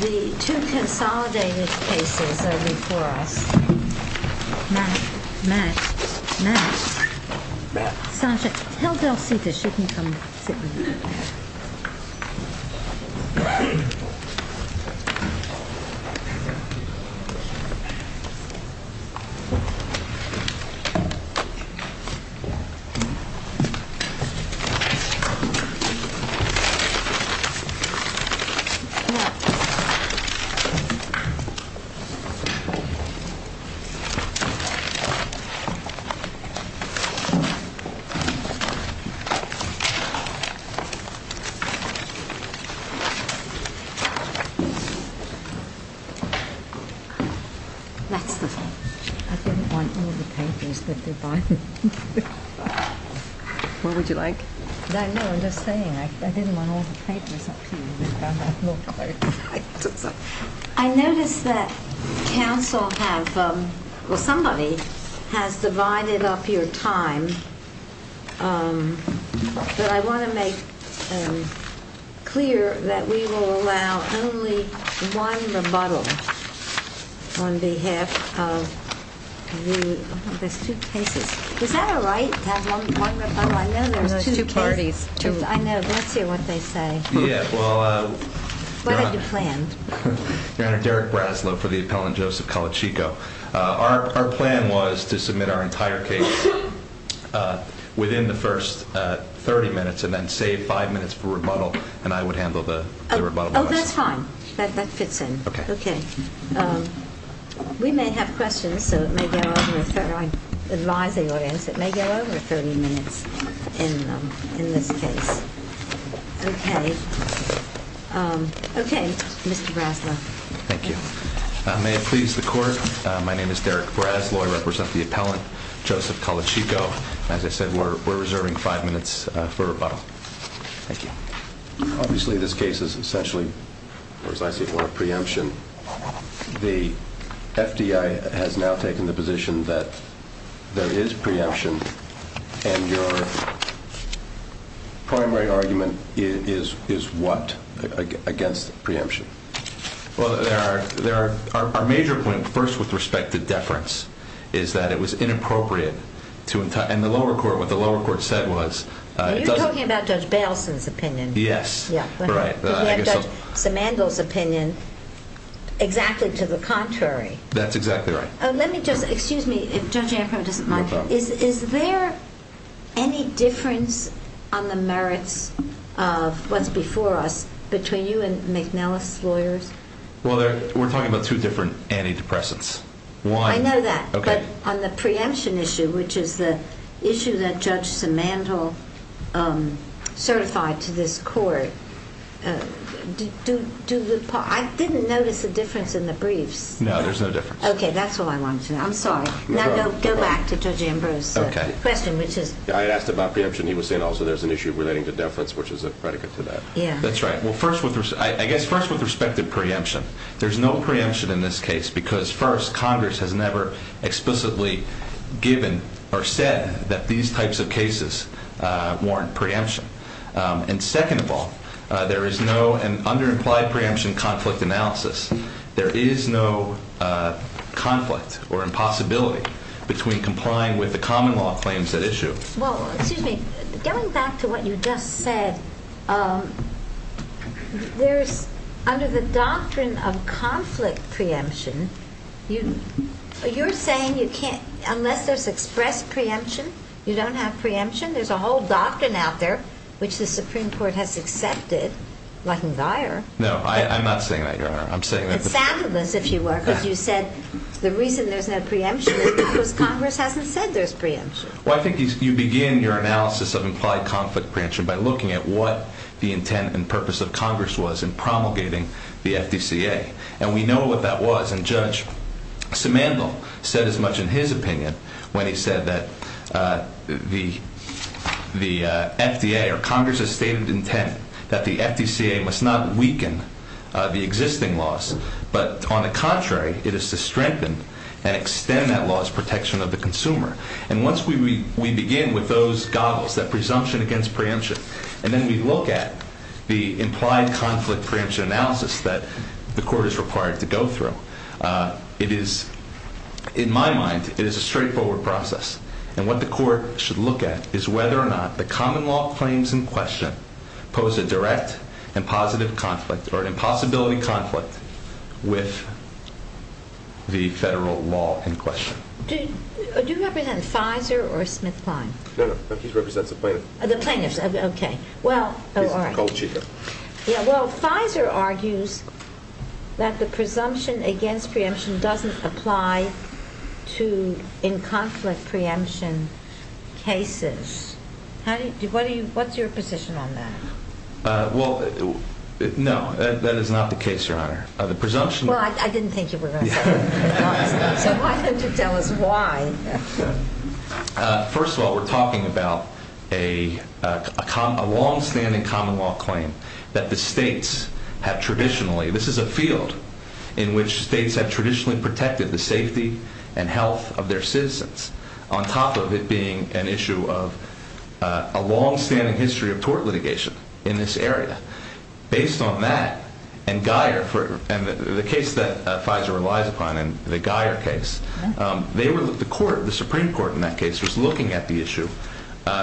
The two consolidated cases are before us. Max. Max. Max. Sasha, tell Bill Peters you can come sit with me. I didn't want him to paint me. What would you like? I know, I'm just saying, I didn't want him to paint me. I notice that counsel has, or somebody, has divided up your time. But I want to make clear that we will allow only one rebuttal on behalf of the two cases. Is that all right, to have one rebuttal? I know there are two parties. I know, they'll see what they say. Yes, well... What are the plans? Derek Braslow for the appellant Joseph Colacicco. Our plan was to submit our entire case within the first 30 minutes and then save five minutes for rebuttal, and I would handle the rebuttal. Oh, that's fine. That's a good thing. Okay. Okay. We may have questions, so it may go on. We'll try to advise the audience. It may go over 30 minutes in this case. Okay. Okay, Mr. Braslow. Thank you. May it please the Court, my name is Derek Braslow. I represent the appellant, Joseph Colacicco. As I said, we're reserving five minutes for rebuttal. Thank you. Obviously, this case is essentially, as I see it, preemption. The FDI has now taken the position that there is preemption, and your primary argument is what against preemption? Well, there are major points. First, with respect to deference, is that it was inappropriate to entitle... And the lower court, what the lower court said was... You're talking about Judge Baleson's opinion. Yes. Judge Simandl's opinion, exactly to the contrary. That's exactly right. Oh, let me just... Excuse me. Is there any difference on the merits of what's before us between you and McNellis' lawyers? Well, we're talking about two different antidepressants. I know that, but on the preemption issue, which is the issue that Judge Simandl certified to this court, I didn't notice a difference in the brief. No, there's no difference. Okay, that's what I wanted to know. I'm sorry. Now, go back to Judge Ambrose. Okay. I asked about preemption, and he was saying also there's an issue relating to deference, which is a predicate for that. Yeah. That's right. I guess first with respect to preemption, there's no preemption in this case because, first, Congress has never explicitly given or said that these types of cases warrant preemption. And second of all, there is no under-implied preemption conflict analysis. There is no conflict or impossibility between complying with the common law claims at issue. Well, excuse me. Going back to what you just said, there's, under the doctrine of conflict preemption, you're saying you can't, unless there's express preemption, you don't have preemption? There's a whole doctrine out there, which the Supreme Court has accepted. It wasn't me. No, I'm not saying that, Your Honor. It's fabulous, if you were, because you said the reason there's no preemption is because Congress hasn't said there's preemption. Well, I think you begin your analysis of implied conflict preemption by looking at what the intent and purpose of Congress was in promulgating the FDCA. And we know what that was. And Judge Simandl said as much in his opinion when he said that the FDA or Congress's stated intent that the FDCA must not weaken the existing laws. But, on the contrary, it is to strengthen and extend that law's protection of the consumer. And once we begin with those goggles, that presumption against preemption, and then we look at the implied conflict preemption analysis that the court is required to go through, it is, in my mind, it is a straightforward process. And what the court should look at is whether or not the common law claims in question pose a direct and positive conflict or an impossibility conflict with the federal law in question. Do you represent Pfizer or Smith-Prime? No, no, I think you represent the plaintiffs. Oh, the plaintiffs, okay. Well, all right. Well, Pfizer argues that the presumption against preemption doesn't apply to in conflict preemption cases. What's your position on that? Well, no, that is not the case, Your Honor. Well, I didn't think you were going to say that. Why? First of all, we're talking about a longstanding common law claim that the states have traditionally, this is a field in which states have traditionally protected the safety and health of their citizens, on top of it being an issue of a longstanding history of tort litigation in this area. Based on that, and the case that Pfizer relied upon in the Geier case, the Supreme Court in that case was looking at the issue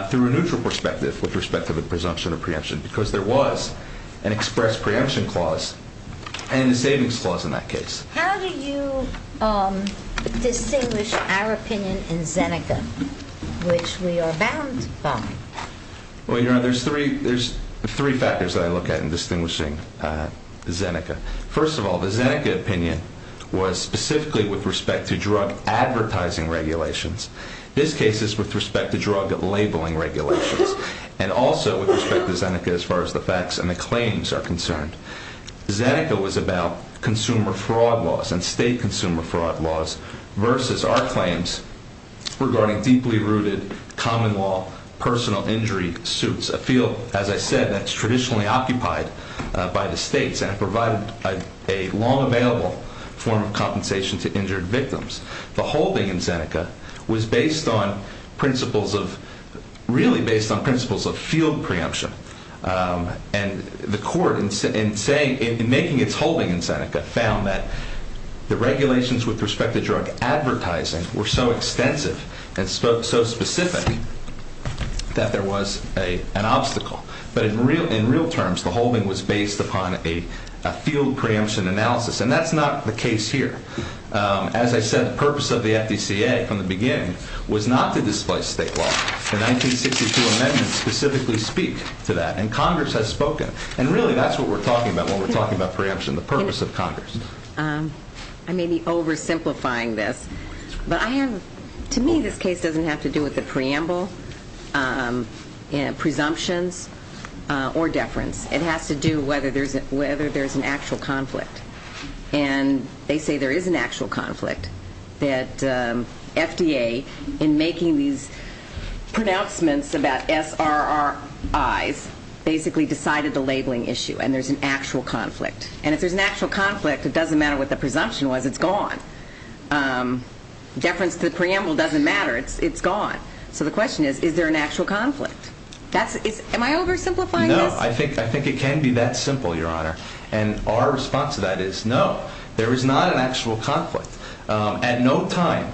through a neutral perspective with respect to the presumption of preemption, because there was an express preemption clause and a savings clause in that case. How do you distinguish our opinion in Zeneca, which we are bound by? Well, Your Honor, there's three factors that I look at in distinguishing Zeneca. First of all, the Zeneca opinion was specifically with respect to drug advertising regulations. This case is with respect to drug labeling regulations, and also with respect to Zeneca as far as the facts and the claims are concerned. Zeneca was about consumer fraud laws and state consumer fraud laws versus our claims regarding deeply rooted common law personal injury suits, a field, as I said, that's traditionally occupied by the states and provided a long available form of compensation to injured victims. The holding in Zeneca was really based on principles of field preemption, and the court in making its holding in Zeneca found that the regulations with respect to drug advertising were so extensive and so specific that there was an obstacle. But in real terms, the holding was based upon a field preemption analysis, and that's not the case here. As I said, the purpose of the FDCA from the beginning was not to displace state law. The 1962 amendment specifically speaks to that, and Congress has spoken. And really, that's what we're talking about when we're talking about preemption, the purpose of Congress. I may be oversimplifying this, but to me, this case doesn't have to do with the preamble presumption or deference. It has to do whether there's an actual conflict. And they say there is an actual conflict, that FDA, in making these pronouncements about SRRIs, basically decided the labeling issue, and there's an actual conflict. And if there's an actual conflict, it doesn't matter what the presumption was. It's gone. Deference to the preamble doesn't matter. It's gone. So the question is, is there an actual conflict? Am I oversimplifying this? No. I think it can be that simple, Your Honor. And our response to that is, no, there is not an actual conflict. At no time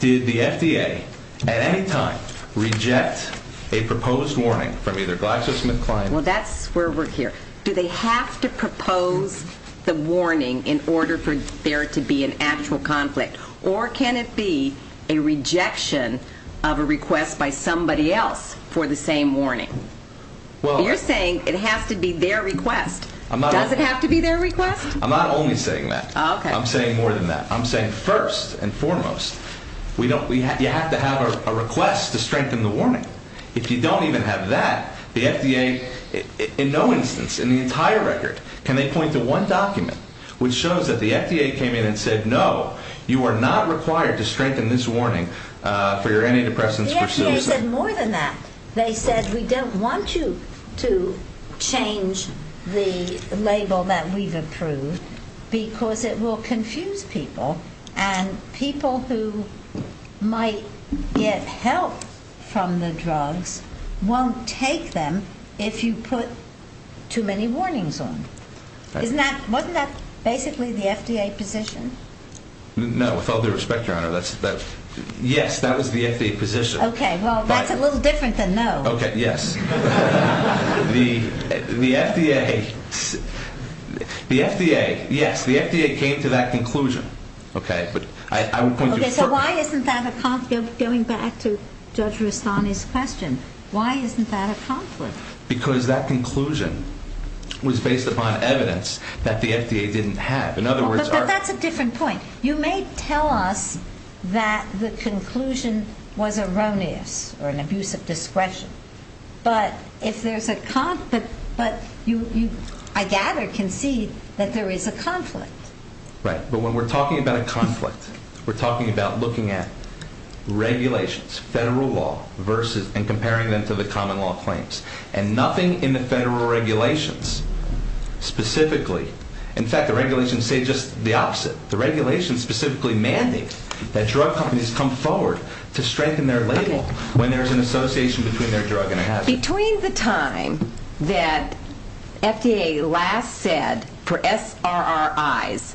did the FDA, at any time, reject a proposed warning from either Glass or Smith-Klein. Well, that's where we're here. Do they have to propose the warning in order for there to be an actual conflict? Or can it be a rejection of a request by somebody else for the same warning? You're saying it has to be their request. Does it have to be their request? I'm not only saying that. Okay. I'm saying more than that. I'm saying, first and foremost, you have to have a request to strengthen the warning. If you don't even have that, the FDA, in no instance, in the entire record, can they point to one document, which shows that the FDA came in and said, no, you are not required to strengthen this warning for your antidepressants. The FDA said more than that. They said, we don't want you to change the label that we've approved because it will confuse people, and people who might get help from the drug won't take them if you put too many warnings on them. Wasn't that basically the FDA position? No, with all due respect, Your Honor, yes, that was the FDA position. Okay. Well, that's a little different than no. Okay. Yes. The FDA, yes, the FDA came to that conclusion. Okay. So why isn't that a conflict going back to Judge Rastani's question? Why isn't that a conflict? Because that conclusion was based upon evidence that the FDA didn't have. But that's a different point. You may tell us that the conclusion was erroneous or an abuse of discretion, but if there's a conflict, I gather you can see that there is a conflict. Right. But when we're talking about a conflict, we're talking about looking at regulations, federal law, and comparing them to the common law claims, and nothing in the federal regulations specifically. In fact, the regulations say just the opposite. The regulations specifically mandate that drug companies come forward to strengthen their label when there's an association between their drug and a hazard. Between the time that FDA last said for SRRIs,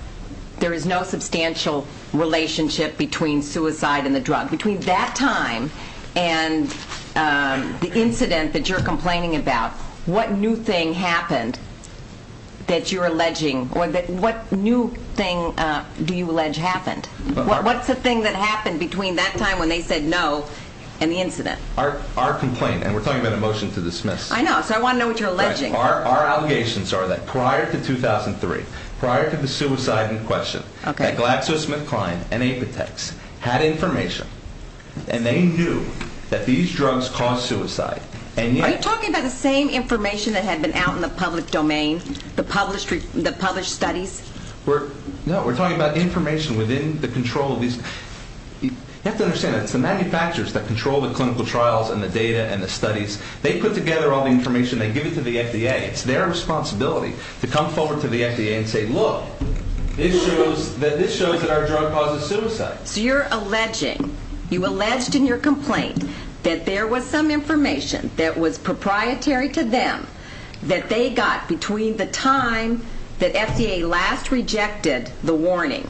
there is no substantial relationship between suicide and the drug. Between that time and the incident that you're complaining about, what new thing happened that you're alleging, or what new thing do you allege happened? What's the thing that happened between that time when they said no and the incident? Our complaint, and we're talking about a motion to dismiss. I know, so I want to know what you're alleging. Our allegations are that prior to 2003, prior to the suicide in question, that GlaxoSmithKline and Apotex had information, and they knew that these drugs caused suicide. Are you talking about the same information that had been out in the public domain, the published studies? No, we're talking about information within the control of these. You have to understand that the manufacturers that control the clinical trials and the data and the studies, they put together all the information, they give it to the FDA. It's their responsibility to come forward to the FDA and say, look, this shows that our drug causes suicide. So you're alleging, you alleged in your complaint, that there was some information that was proprietary to them that they got between the time that FDA last rejected the warning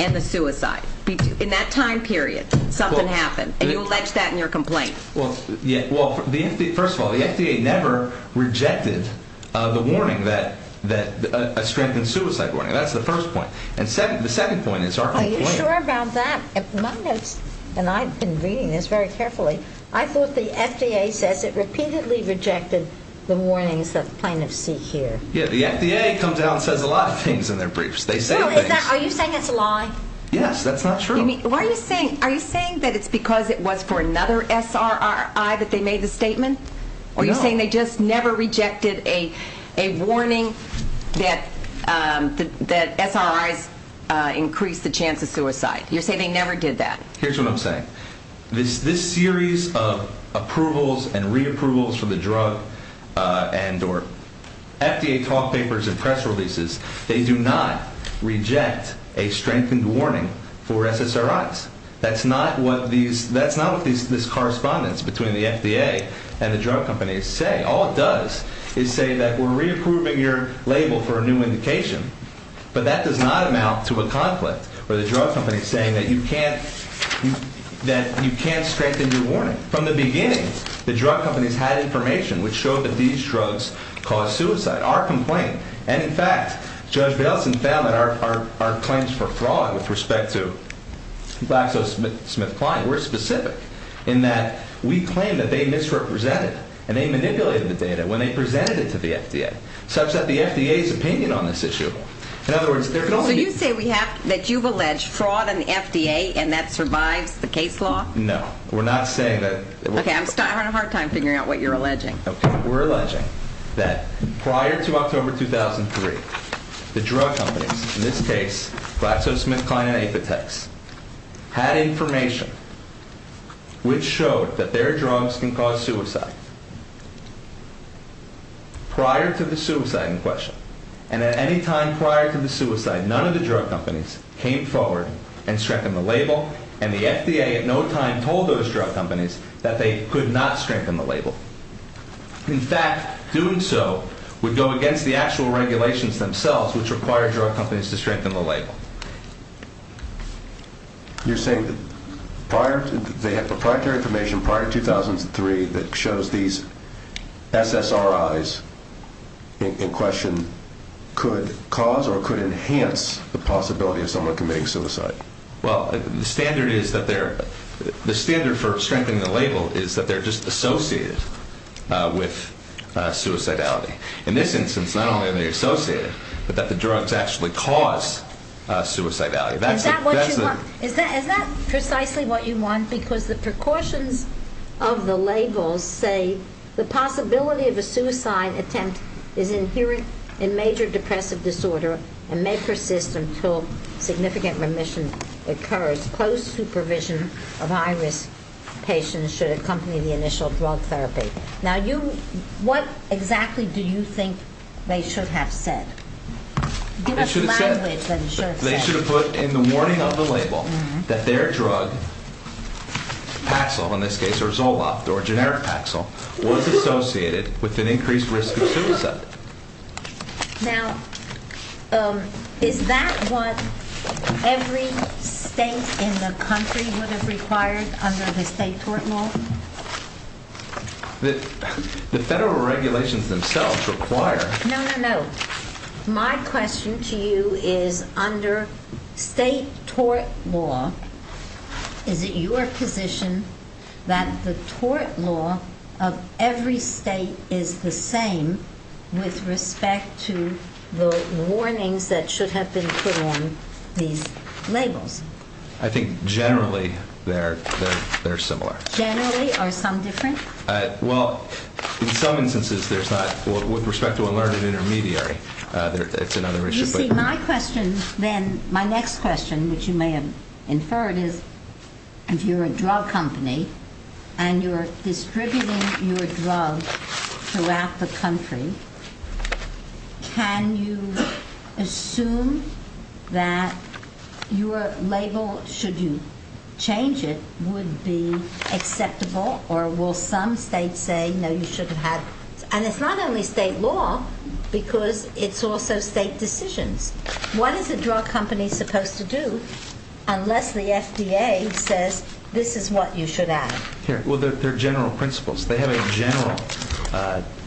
and the suicide. In that time period, something happened, and you allege that in your complaint. Well, first of all, the FDA never rejected the warning, the strengthened suicide warning. That's the first point. And the second point is our complaint. Are you sure about that? And I've been reading this very carefully. I thought the FDA said that repeatedly rejected the warnings that kind of speak here. Yeah, the FDA comes out and says a lot of things in their briefs. No, are you saying it's a lie? Yes, that's not true. Are you saying that it's because it was for another SRI that they made the statement? Or are you saying they just never rejected a warning that SRIs increased the chance of suicide? You're saying they never did that. Here's what I'm saying. This series of approvals and re-approvals for the drug and or FDA talk papers and press releases, they do not reject a strengthened warning for SSRIs. That's not what this correspondence between the FDA and the drug companies say. All it does is say that we're re-approving your label for a new indication. But that does not amount to a conflict where the drug company is saying that you can't strengthen your warning. From the beginning, the drug companies had information which showed that these drugs cause suicide, our complaint. And, in fact, Judge Belkin found that our claims for fraud with respect to GlaxoSmithKline were specific, in that we claim that they misrepresented and they manipulated the data when they presented it to the FDA, such that the FDA's opinion on this issue. So you say that you've alleged fraud on the FDA and that survived the case law? No, we're not saying that. Okay, I'm having a hard time figuring out what you're alleging. Okay, we're alleging that prior to October 2003, the drug companies, in this case GlaxoSmithKline and Azotex, had information which showed that their drugs can cause suicide. Prior to the suicide in question, and at any time prior to the suicide, none of the drug companies came forward and strengthened the label, and the FDA at no time told those drug companies that they could not strengthen the label. In fact, doing so would go against the actual regulations themselves, which required drug companies to strengthen the label. You're saying that prior to, they had the primary information prior to 2003 that shows these SSRIs in question could cause or could enhance the possibility of someone committing suicide? Well, the standard for strengthening the label is that they're just associated with suicidality. In this instance, not only are they associated, but that the drugs actually cause suicidality. Is that precisely what you want? Because the precautions of the label say, the possibility of a suicide attempt is inherent in major depressive disorder and may persist until significant remission occurs. Close supervision of high-risk patients should accompany the initial drug therapy. Now, what exactly do you think they should have said? They should have put in the warning of the label that their drug, Paxil, in this case, or Zoloft, or generic Paxil, was associated with an increased risk of suicide. Now, is that what everything in the country would have required under the state tort law? The federal regulations themselves require. No, no, no. My question to you is, under state tort law, is it your position that the tort law of every state is the same with respect to the warnings that should have been put on the label? I think generally they're similar. Generally? Are some different? Well, in some instances, there's not. With respect to a learning intermediary, it's another issue. My next question, which you may have inferred, is, if you're a drug company and you're distributing your drugs throughout the country, can you assume that your label, should you change it, would be acceptable, or will some states say, no, you shouldn't have? And it's not only state law, because it's also state decision. What is a drug company supposed to do unless the FDA says, this is what you should have? Well, they're general principles. They have a general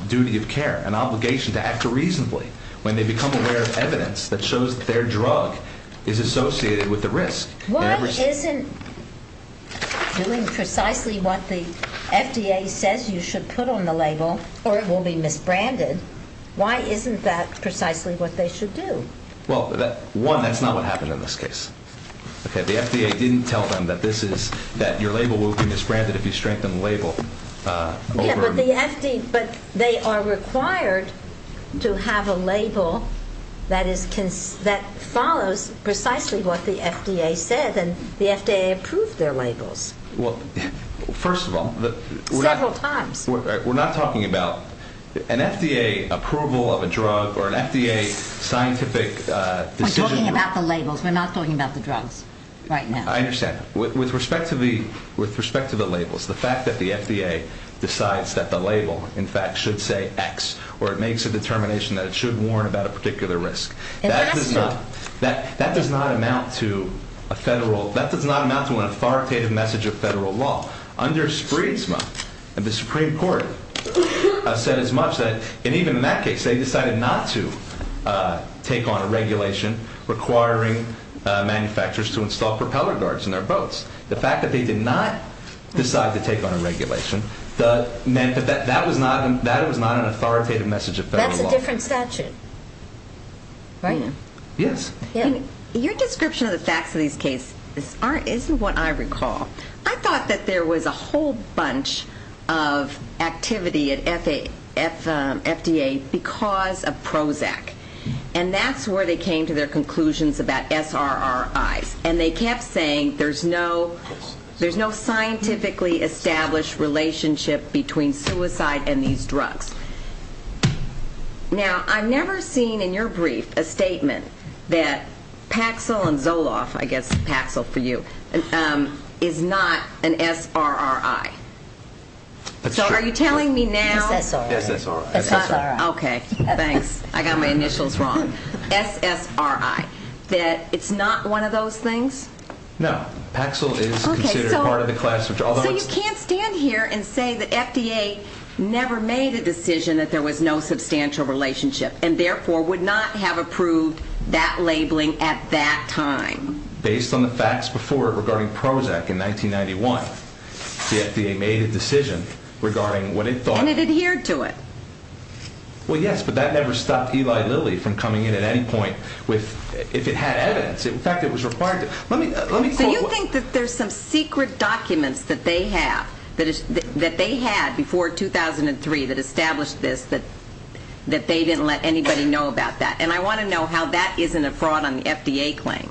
duty of care, an obligation to act reasonably, when they become aware of evidence that shows that their drug is associated with a risk. Why isn't doing precisely what the FDA says you should put on the label, or it will be misbranded, why isn't that precisely what they should do? Well, one, that's not what happened in this case. The FDA didn't tell them that your label will be misbranded if you strengthen the label. But they are required to have a label that follows precisely what the FDA says, and the FDA approved their labels. Well, first of all, we're not talking about an FDA approval of a drug or an FDA scientific decision. We're talking about the labels. We're not talking about the drugs right now. I understand. With respect to the labels, the fact that the FDA decides that the label, in fact, should say X, or it makes a determination that it should warn about a particular risk, that does not amount to an authoritative message of federal law. Under SPRESMA, the Supreme Court said as much, and even in that case, they decided not to take on a regulation requiring manufacturers to install propeller guards in their boats. The fact that they did not decide to take on a regulation meant that that was not an authoritative message of federal law. That's a different statute, right? Yes. Your description of the facts of these cases isn't what I recall. I thought that there was a whole bunch of activity at FDA because of Prozac, and that's where they came to their conclusions about SRRI, and they kept saying there's no scientifically established relationship between suicide and these drugs. Now, I've never seen in your brief a statement that Paxil and Zoloft, I guess Paxil for you, is not an SRRI. That's true. So are you telling me now? That's SRRI. That's SRRI. Okay, thanks. I got my initials wrong. SSRI, that it's not one of those things? No. Paxil is considered part of the class. So you can't stand here and say that FDA never made a decision that there was no substantial relationship, and therefore would not have approved that labeling at that time. Based on the facts before it regarding Prozac in 1991, the FDA made a decision regarding what it thought. And it adhered to it. Well, yes, but that never stopped Eli Lilly from coming in at any point if it had evidence. In fact, it was required to. So you think that there's some secret documents that they had before 2003 that established this, that they didn't let anybody know about that, and I want to know how that isn't a fraud on the FDA claim.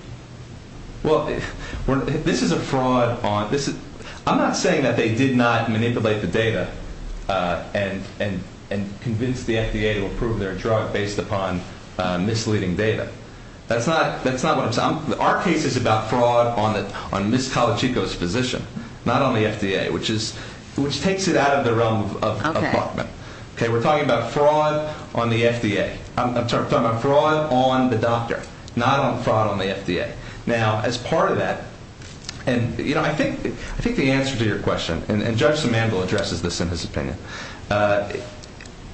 Well, this is a fraud. I'm not saying that they did not manipulate the data and convince the FDA to approve their drug based upon misleading data. That's not what I'm saying. Our case is about fraud on Ms. Colachico's position, not on the FDA, which takes it out of the realm of fraud. Okay, we're talking about fraud on the FDA. I'm sorry, I'm talking about fraud on the doctor, not on fraud on the FDA. Now, as part of that, and, you know, I think the answer to your question, and Judge Simandl addresses this in his opinion, and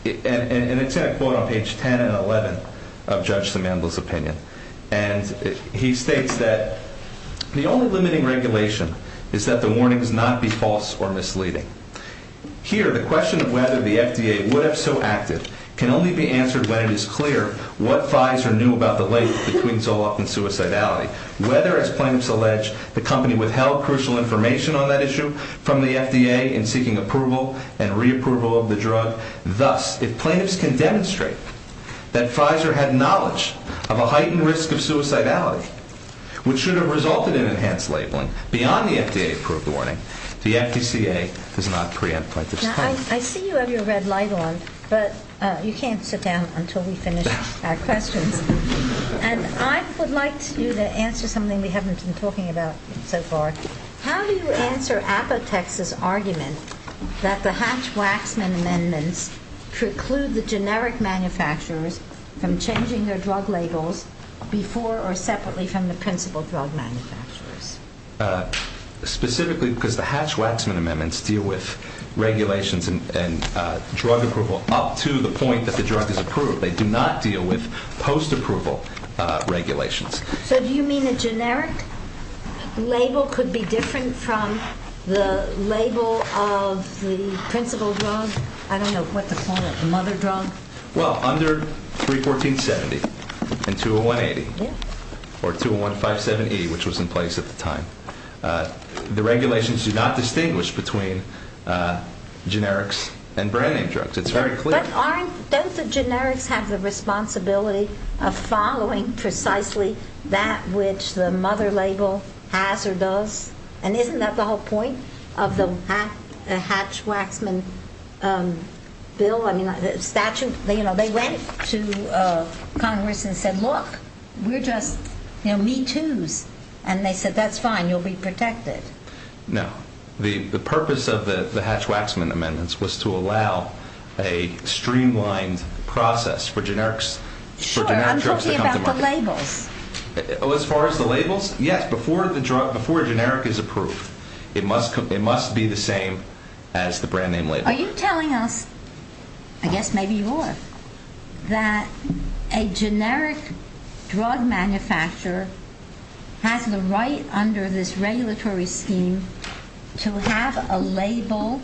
it's going to go on page 10 and 11 of Judge Simandl's opinion, and he states that the only limiting regulation is that the warnings not be false or misleading. Here, the question of whether the FDA would have so acted can only be answered when it's clear what Pfizer knew about the link between Zoloft and suicidality. Whether, as plaintiffs allege, the company withheld crucial information on that issue from the FDA in seeking approval and reapproval of the drug, thus, if plaintiffs can demonstrate that Pfizer had knowledge of a heightened risk of suicidality, which should have resulted in enhanced labeling beyond the FDA-approved warning, the FDCA does not preempt that response. Now, I see you have your red light on, but you can't sit down until we finish our questions. And I would like you to answer something we haven't been talking about so far. How do you answer Apotex's argument that the Hatch-Waxman amendments preclude the generic manufacturers from changing their drug labels before or separately from the principal drug manufacturers? Specifically because the Hatch-Waxman amendments deal with regulations and drug approval up to the point that the drug is approved. They do not deal with post-approval regulations. So do you mean the generic label could be different from the label of the principal drug? I don't know what to call it, the mother drug? Well, under 314.70 and 201.80 or 201.578, which was in place at the time, the regulations do not distinguish between generics and brand-name drugs. It's very clear. But aren't the generics have the responsibility of following precisely that which the mother label has or does? And isn't that the whole point of the Hatch-Waxman bill? I mean, they went to Congress and said, look, we're just, you know, me too. And they said, that's fine. You'll be protected. No. The purpose of the Hatch-Waxman amendments was to allow a streamlined process for generics. Sure. I'm talking about the labels. As far as the labels? Yes. Before a generic is approved, they must be the same as the brand-name labels. Are you telling us, I guess maybe you are, that a generic drug manufacturer has the right under this regulatory scheme to have a label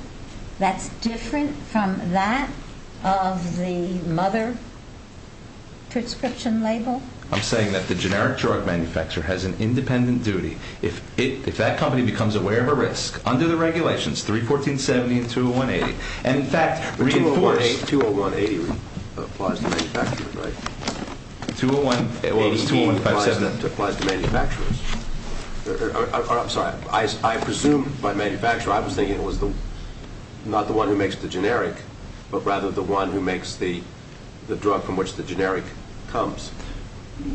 that's different from that of the mother prescription label? I'm saying that the generic drug manufacturer has an independent duty. If that company becomes aware of a risk under the regulations, 31470 and 20180, and in fact, 20180 applies to manufacturers, right? 20180 applies to manufacturers. I'm sorry. I presumed by manufacturer I was thinking it was not the one who makes the generic, but rather the one who makes the drug from which the generic comes.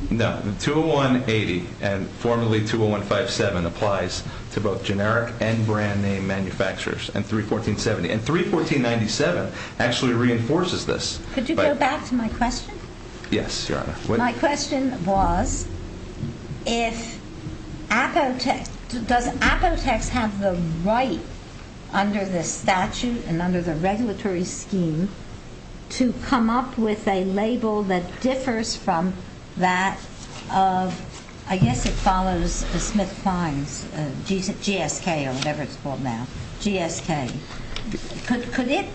No. 20180 and formerly 20157 applies to both generic and brand-name manufacturers, and 31470. And 31497 actually reinforces this. Could you go back to my question? Yes, Your Honor. My question was, if Apotex, does Apotex have the right under the statute and under the regulatory scheme to come up with a label that differs from that of, I guess it follows the Smith-Simes, GSK or whatever it's called now. GSK. Could it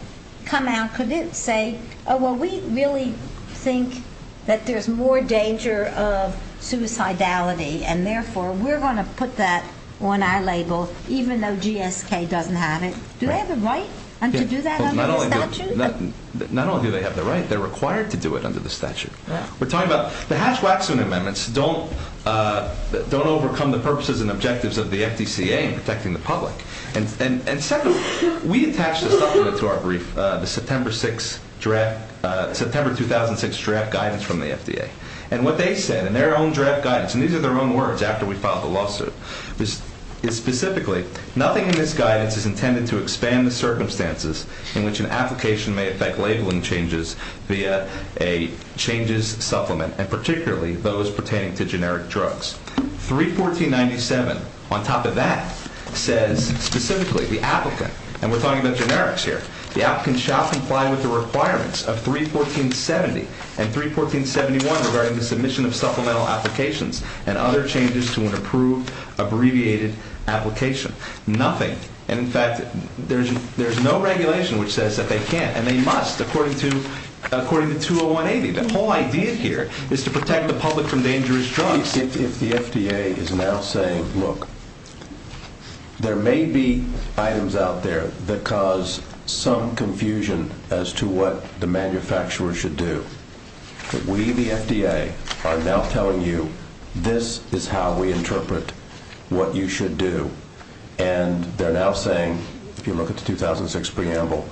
come out, could it say, oh, well, we really think that there's more danger of suicidality, and therefore we're going to put that on our label even though GSK doesn't have it. Do they have the right to do that under the statute? Not only do they have the right, they're required to do it under the statute. We're talking about the Hatch-Watson amendments don't overcome the purposes and objectives of the FDCA in protecting the public. And secondly, we attached this supplement to our brief, the September 2006 draft guidance from the FDA. And what they said in their own draft guidance, and these are their own words after we filed the lawsuit, is specifically, nothing in this guidance is intended to expand the circumstances in which an application may affect labeling changes via a changes supplement, and particularly those pertaining to generic drugs. 314.97, on top of that, says specifically the applicant, and we're talking about generics here, the applicant shall comply with the requirements of 314.70 and 314.71 regarding the submission of supplemental applications and other changes to an approved abbreviated application. Nothing. In fact, there's no regulation which says that they can't, and they must, according to 20180. The whole idea here is to protect the public from dangerous drugs. If the FDA is now saying, look, there may be items out there that cause some confusion as to what the manufacturer should do, we, the FDA, are now telling you, this is how we interpret what you should do. And they're now saying, if you look at the 2006 preamble,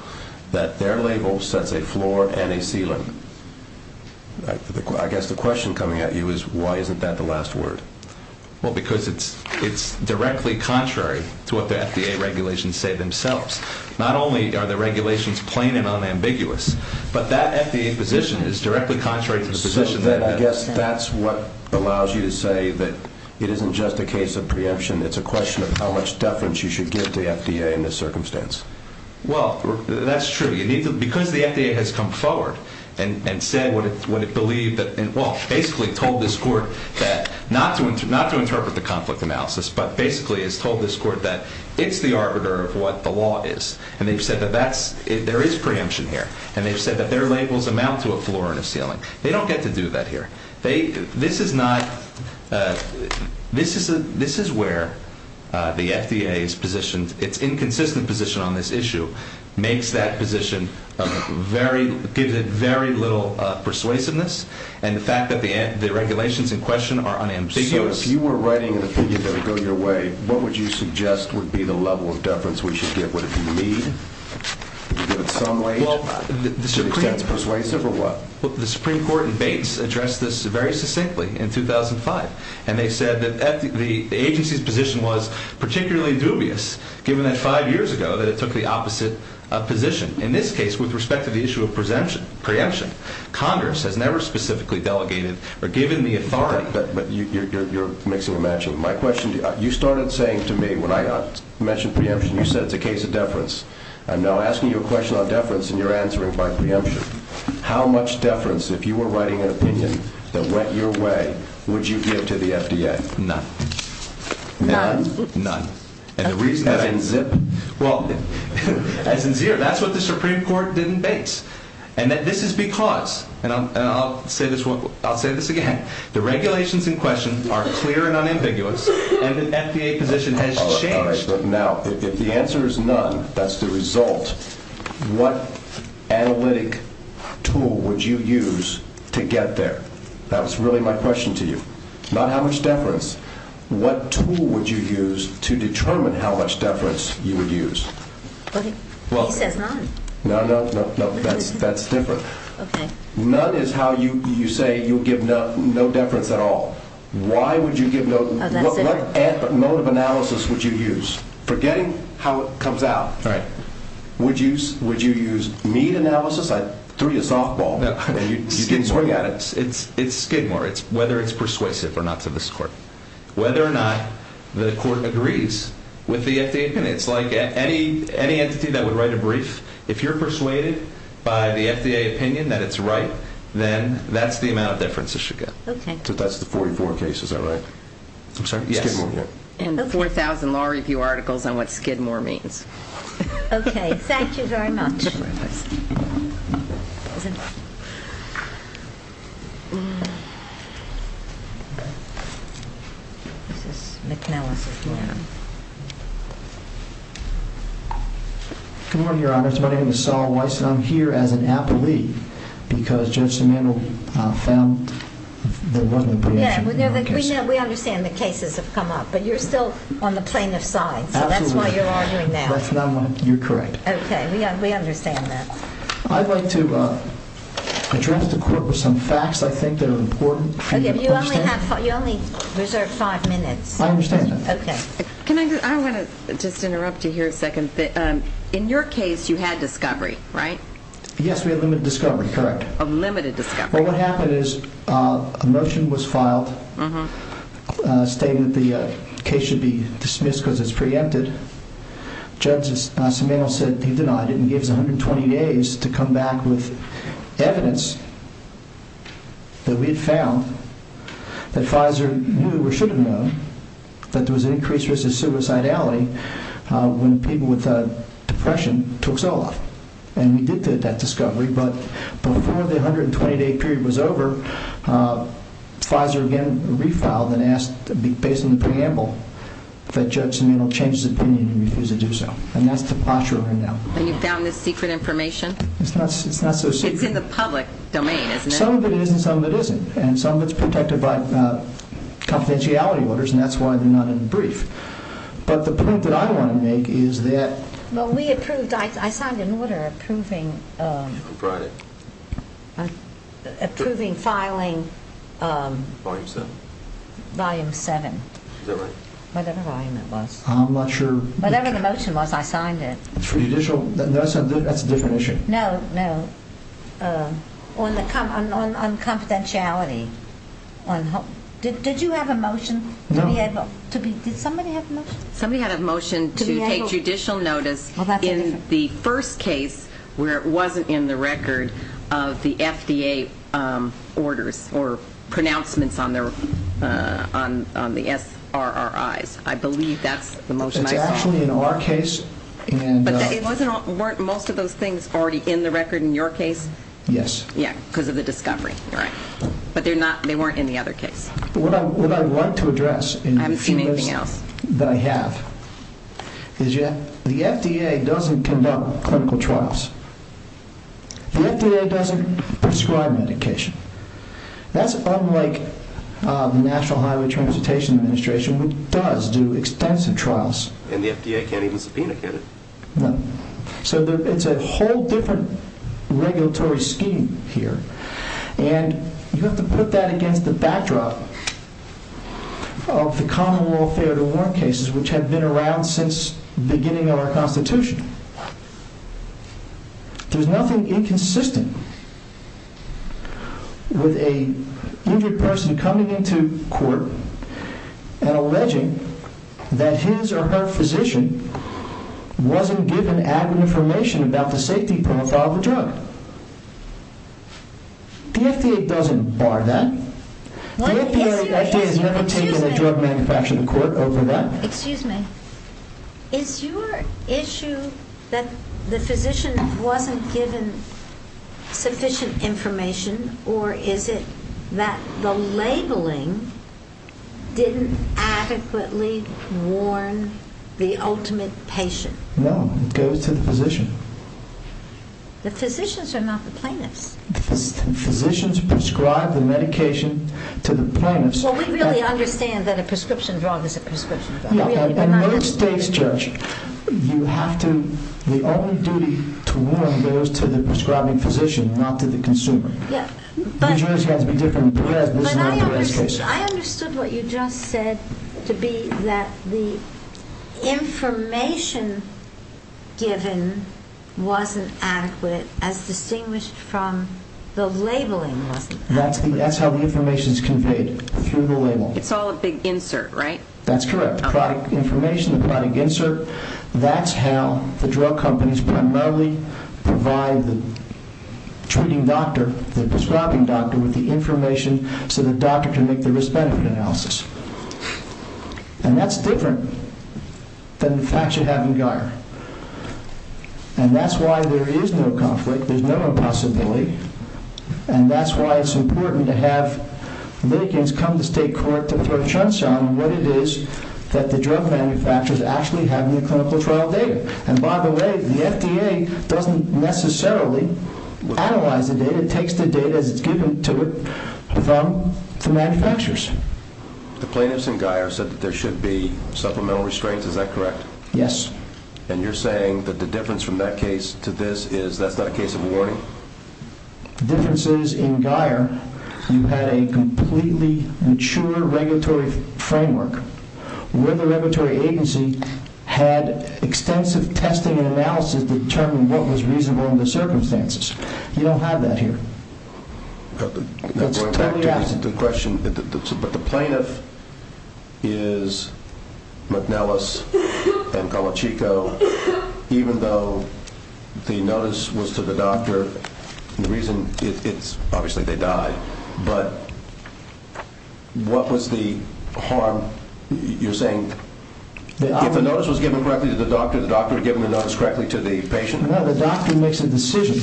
that their label sets a floor and a ceiling. I guess the question coming at you is, why isn't that the last word? Well, because it's directly contrary to what the FDA regulations say themselves. Not only are the regulations plain and unambiguous, but that FDA position is directly contrary to the position that I'm in. I guess that's what allows you to say that it isn't just a case of preemption, it's a question of how much deference you should give to the FDA in this circumstance. Well, that's true. Because the FDA has come forward and said what it believed, and, well, basically told this court that, not to interpret the conflict analysis, but basically has told this court that it's the arbiter of what the law is. And they've said that there is preemption here. And they've said that their labels amount to a floor and a ceiling. They don't get to do that here. This is where the FDA's position, its inconsistent position on this issue, makes that position very, gives it very little persuasiveness, and the fact that the regulations in question are unambiguous. So if you were writing an opinion that would go your way, what would you suggest would be the level of deference we should give? Would it be lead? Would you give it some weight? Well, the Supreme Court in Bates addressed this very succinctly in 2005, and they said that the agency's position was particularly dubious, given that five years ago that it took the opposite position. In this case, with respect to the issue of preemption, Congress had never specifically delegated or given the authority. But you're mixing and matching. My question to you, you started saying to me when I mentioned preemption, you said it's a case of deference. I'm now asking you a question on deference, and you're answering by preemption. How much deference, if you were writing an opinion that went your way, would you give to the FDA? None. None? None. As in zip? Well, as in zero. That's what the Supreme Court did in Bates. And this is because, and I'll say this again, the regulations in question are clear and unambiguous, and the FDA position has changed. Now, if the answer is none, that's the result, what analytic tool would you use to get there? That was really my question to you. Not how much deference. What tool would you use to determine how much deference you would use? I said none. No, no, no, that's different. Okay. None is how you say you'll give no deference at all. Why would you give no deference? What mode of analysis would you use? Forgetting how it comes out. Right. Would you use need analysis? That's really a softball. It's skid more. It's whether it's persuasive or not to this court. Whether or not the court agrees with the FDA opinion. It's like any entity that would write a brief, if you're persuaded by the FDA opinion that it's right, then that's the amount of deference it should get. Okay. So that's the 44 cases I write. I'm sorry? Yes. And 4,000 law review articles on what skid more means. Okay. Thank you very much. My name is Saul Weiss and I'm here as an appellee because Judge Simendel found the woman. We understand the cases have come up, but you're still on the plaintiff's side. That's why you're arguing now. You're correct. Okay. We understand that. I'd like to address the court with some facts I think are important. You only reserve five minutes. I understand that. Okay. I want to just interrupt you here a second. In your case, you had discovery, right? Yes, we had limited discovery, correct. Limited discovery. What happened is a motion was filed, a statement the case should be dismissed because it's preempted. Judge Simendel said he denied it and gave us 120 days to come back with evidence that we had found that Fizer knew or should have known that there was an increased risk of suicidality when people with depression took Zoloft, and we did get that discovery. But before the 120-day period was over, Fizer again refiled and asked based on the preamble that Judge Simendel changed his opinion and refused to do so. And that's the posture right now. And you found the secret information? It's not so secret. It's in the public domain, isn't it? Some of it is and some of it isn't. And some of it's protected by confidentiality orders, and that's why they're not in the brief. But the point that I want to make is that we approved. I signed an order approving filing volume 7, whatever volume that was. I'm not sure. Whatever the motion was, I signed it. That's a different issue. No, no. On confidentiality. Did you have a motion to be able to be – did somebody have a motion? Somebody had a motion to take judicial notice in the first case where it wasn't in the record of the FDA orders or pronouncements on the SRRIs. I believe that's the motion. It's actually in our case. But weren't most of those things already in the record in your case? Yes. Yes, because of the discovery. You're right. But they weren't in the other case. What I'd like to address in any case that I have is that the FDA doesn't conduct clinical trials. The FDA doesn't prescribe medication. That's unlike the National Highway Transportation Administration, which does do extensive trials. And the FDA can't even subpoena for it. No. So it's a whole different regulatory scheme here, and you have to put that against the backdrop of the common law failure-to-warrant cases which have been around since the beginning of our Constitution. There's nothing inconsistent with an injured person coming into court and alleging that his or her physician wasn't given adequate information about the safety profile of the drug. The FDA doesn't bar that. The FDA is limited in the Drug Manufacturing Court over that. Excuse me. Is your issue that the physician wasn't given sufficient information, or is it that the labeling didn't adequately warn the ultimate patient? No. It goes to the physician. The physicians are not the plaintiffs. Physicians prescribe the medication to the plaintiffs. Well, we really understand that a prescription drug is a prescription drug. Yeah. And those states, Judge, you have to, the only duty to warn goes to the prescribing physician, not to the consumer. You just have to give them bread. I understood what you just said to be that the information given wasn't adequate as distinguished from the labeling. That's how the information is conveyed, through the label. It's all a big insert, right? That's correct, product information, product insert. That's how the drug companies primarily provide the treating doctor, the prescribing doctor, with the information so the doctor can make the risk-benefit analysis. And that's different than the facts you have in your arm. And that's why there is no conflict. There's no impossibility. And that's why it's important to have litigants come to state court to throw chunks on what it is that the drug manufacturers actually have in their clinical trial data. And, by the way, the FDA doesn't necessarily analyze the data. It takes the data as it's given to it from the manufacturers. The plaintiffs in Guyer said that there should be supplemental restraints. Is that correct? Yes. And you're saying that the difference from that case to this is that's not a case of warning? The difference is, in Guyer, you had a completely mature regulatory framework. When the regulatory agency had extensive testing and analysis to determine what was reasonable in the circumstances. You don't have that here. Going back to the question, but the plaintiff is McNellis and Carluchico, even though the notice was to the doctor. The reason is, obviously, they died. But what was the harm? You're saying if the notice was given correctly to the doctor, the doctor had given the notice correctly to the patient? No, the doctor makes a decision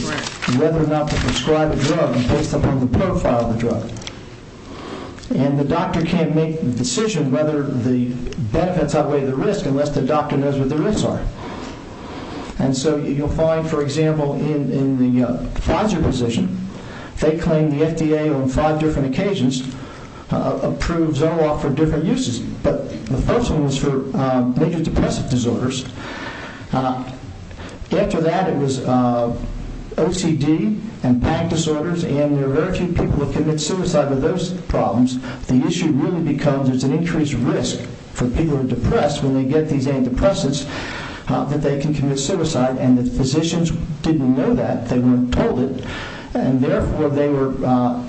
whether or not to prescribe a drug based upon the profile of the drug. And the doctor can't make the decision whether the benefits outweigh the risk unless the doctor knows what the risks are. And so you'll find, for example, in the Fodger position, they claim the FDA, on five different occasions, approved Zoloft for different uses. But the first one was for major depressive disorders. After that, it was OCD and panic disorders, and they were urging people to commit suicide with those problems. The issue really becomes there's an increased risk for people who are depressed when you get these antidepressants that they can commit suicide, and the physicians didn't know that. They weren't told it. And therefore, they were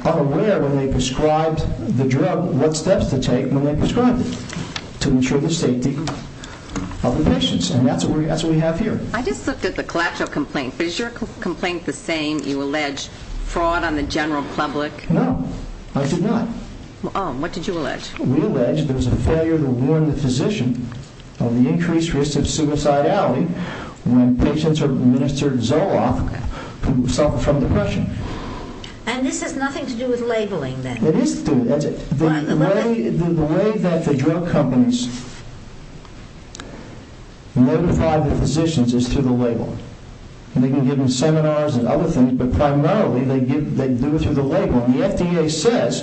unaware when they prescribed the drug what steps to take when they prescribed it to ensure the safety of the patients. And that's what we have here. I just looked at the collateral complaints. Is your complaint the same? You alleged fraud on the general public. No, I did not. What did you allege? We allege there was a failure to warn the physician of the increased risk of suicidality when patients are administered Zoloft from depression. And this has nothing to do with labeling, then? It is to do with it. The way that the drug companies notify the physicians is through the label. We can give them seminars and other things, but primarily they do it through the label. The FDA says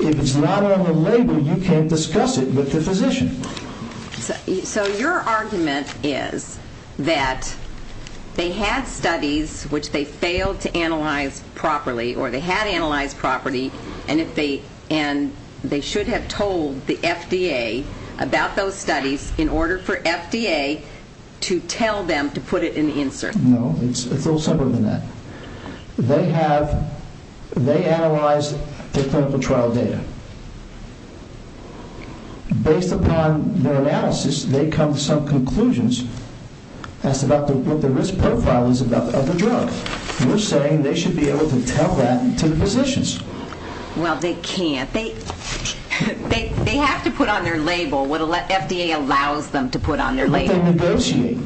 if it's not on the label, you can't discuss it with the physician. So your argument is that they had studies, which they failed to analyze properly, or they had analyzed properly, and they should have told the FDA about those studies in order for FDA to tell them to put it in the insert. No, it's a little simpler than that. They analyzed the clinical trial data. Based upon their analysis, they come to some conclusions as to what the risk profile is of the drug. We're saying they should be able to tell that to the physicians. Well, they can't. They have to put on their label what FDA allows them to put on their label. But they negotiate.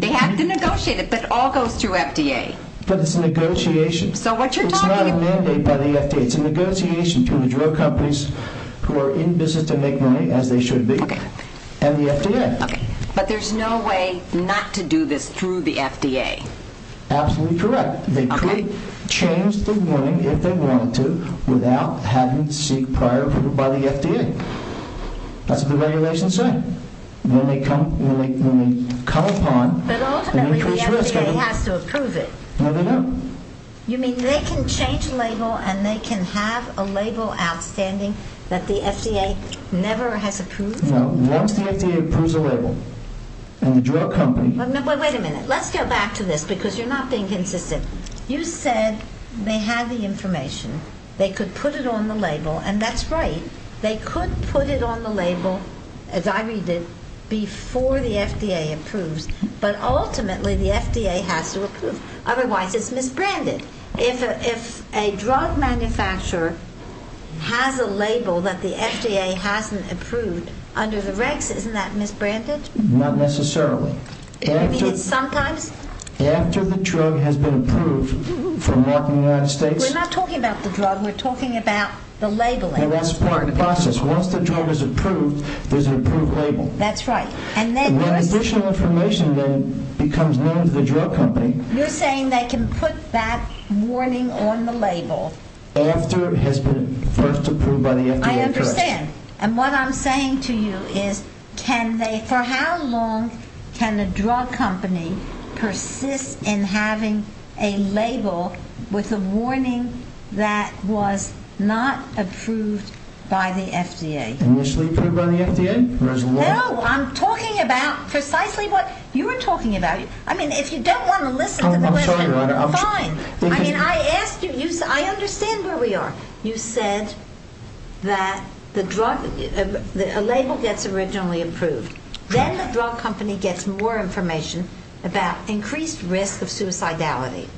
They have to negotiate it, but it all goes through FDA. But it's a negotiation. So what you're talking about is not a mandate by the FDA. It's a negotiation between the drug companies who are in business to make money, as they should be, and the FDA. But there's no way not to do this through the FDA. Absolutely correct. They could change the warning, if they wanted to, without having to seek prior approval by the FDA. That's what the regulations say. When they come upon, but ultimately the FDA has to approve it. No, they don't. You mean they can change the label, and they can have a label outstanding that the FDA never has approved? No. Once the FDA approves the label, and the drug company... Wait a minute. Let's go back to this, because you're not being consistent. You said they had the information. They could put it on the label, and that's right. They could put it on the label, as I read this, before the FDA approved. But ultimately the FDA has to approve. Otherwise, it's misbranded. If a drug manufacturer has a label that the FDA hasn't approved, under the regs, isn't that misbranded? Not necessarily. You mean at some point? After the drug has been approved for market in the United States. We're not talking about the drug. We're talking about the labeling. Well, that's part of the process. Once the drug is approved, there's an approved label. That's right. Well, the additional information then becomes known to the drug company. You're saying they can put that warning on the label. After it has been first approved by the FDA. I understand. And what I'm saying to you is, for how long can the drug company persist in having a label with a warning that was not approved by the FDA? Initially approved by the FDA? No, I'm talking about precisely what you were talking about. I mean, if you don't want to listen to me, fine. I understand where we are. You said that a label gets originally approved. Then the drug company gets more information about increased risk of suicidality.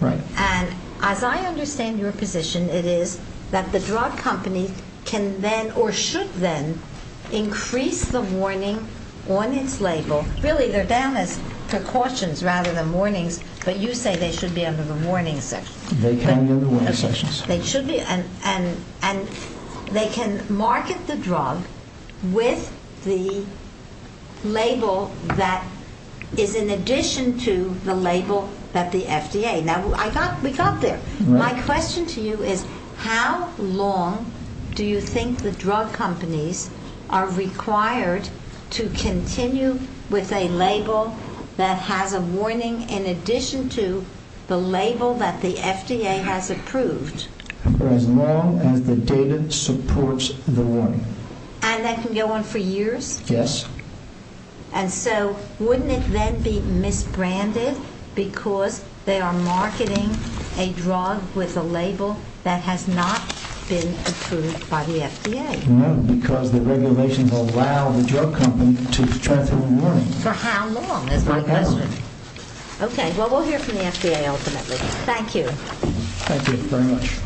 Right. And as I understand your position, it is that the drug company can then, or should then, increase the warning on its label. Really, they're down as precautions rather than warnings, but you say they should be on the warning list. They can be on the warning list. They should be, and they can market the drug with the label that is in addition to the label that the FDA. Now, we got there. My question to you is, how long do you think the drug companies are required to continue with a label that has a warning in addition to the label that the FDA has approved? As long as the data supports the warning. And that can go on for years? Yes. And so, wouldn't it then be misbranded because they are marketing a drug with a label that has not been approved by the FDA? No, because the regulations allow the drug company to continue the warning. For how long, is my question. Okay. Well, we'll hear from the FDA ultimately. Thank you. Thank you very much.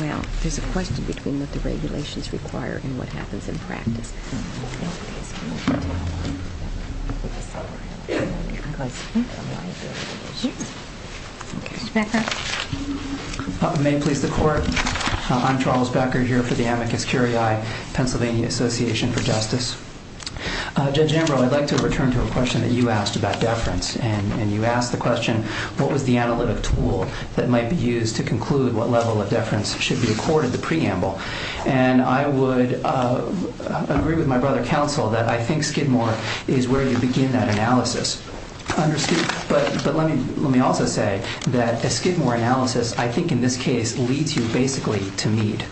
Well, there's a question between what the regulations require and what happens in practice. Okay. May it please the Court. I'm Charles Becker here for the Amicus Curiae, Pennsylvania Association for Justice. Judge Embrill, I'd like to return to a question that you asked about deference. And you asked the question, what was the analytic tool that might be used to conclude what level of deference should be accorded to preamble? And I would agree with my brother counsel that I think Skidmore is where you begin that analysis. But let me also say that a Skidmore analysis, I think in this case, leads you basically to need.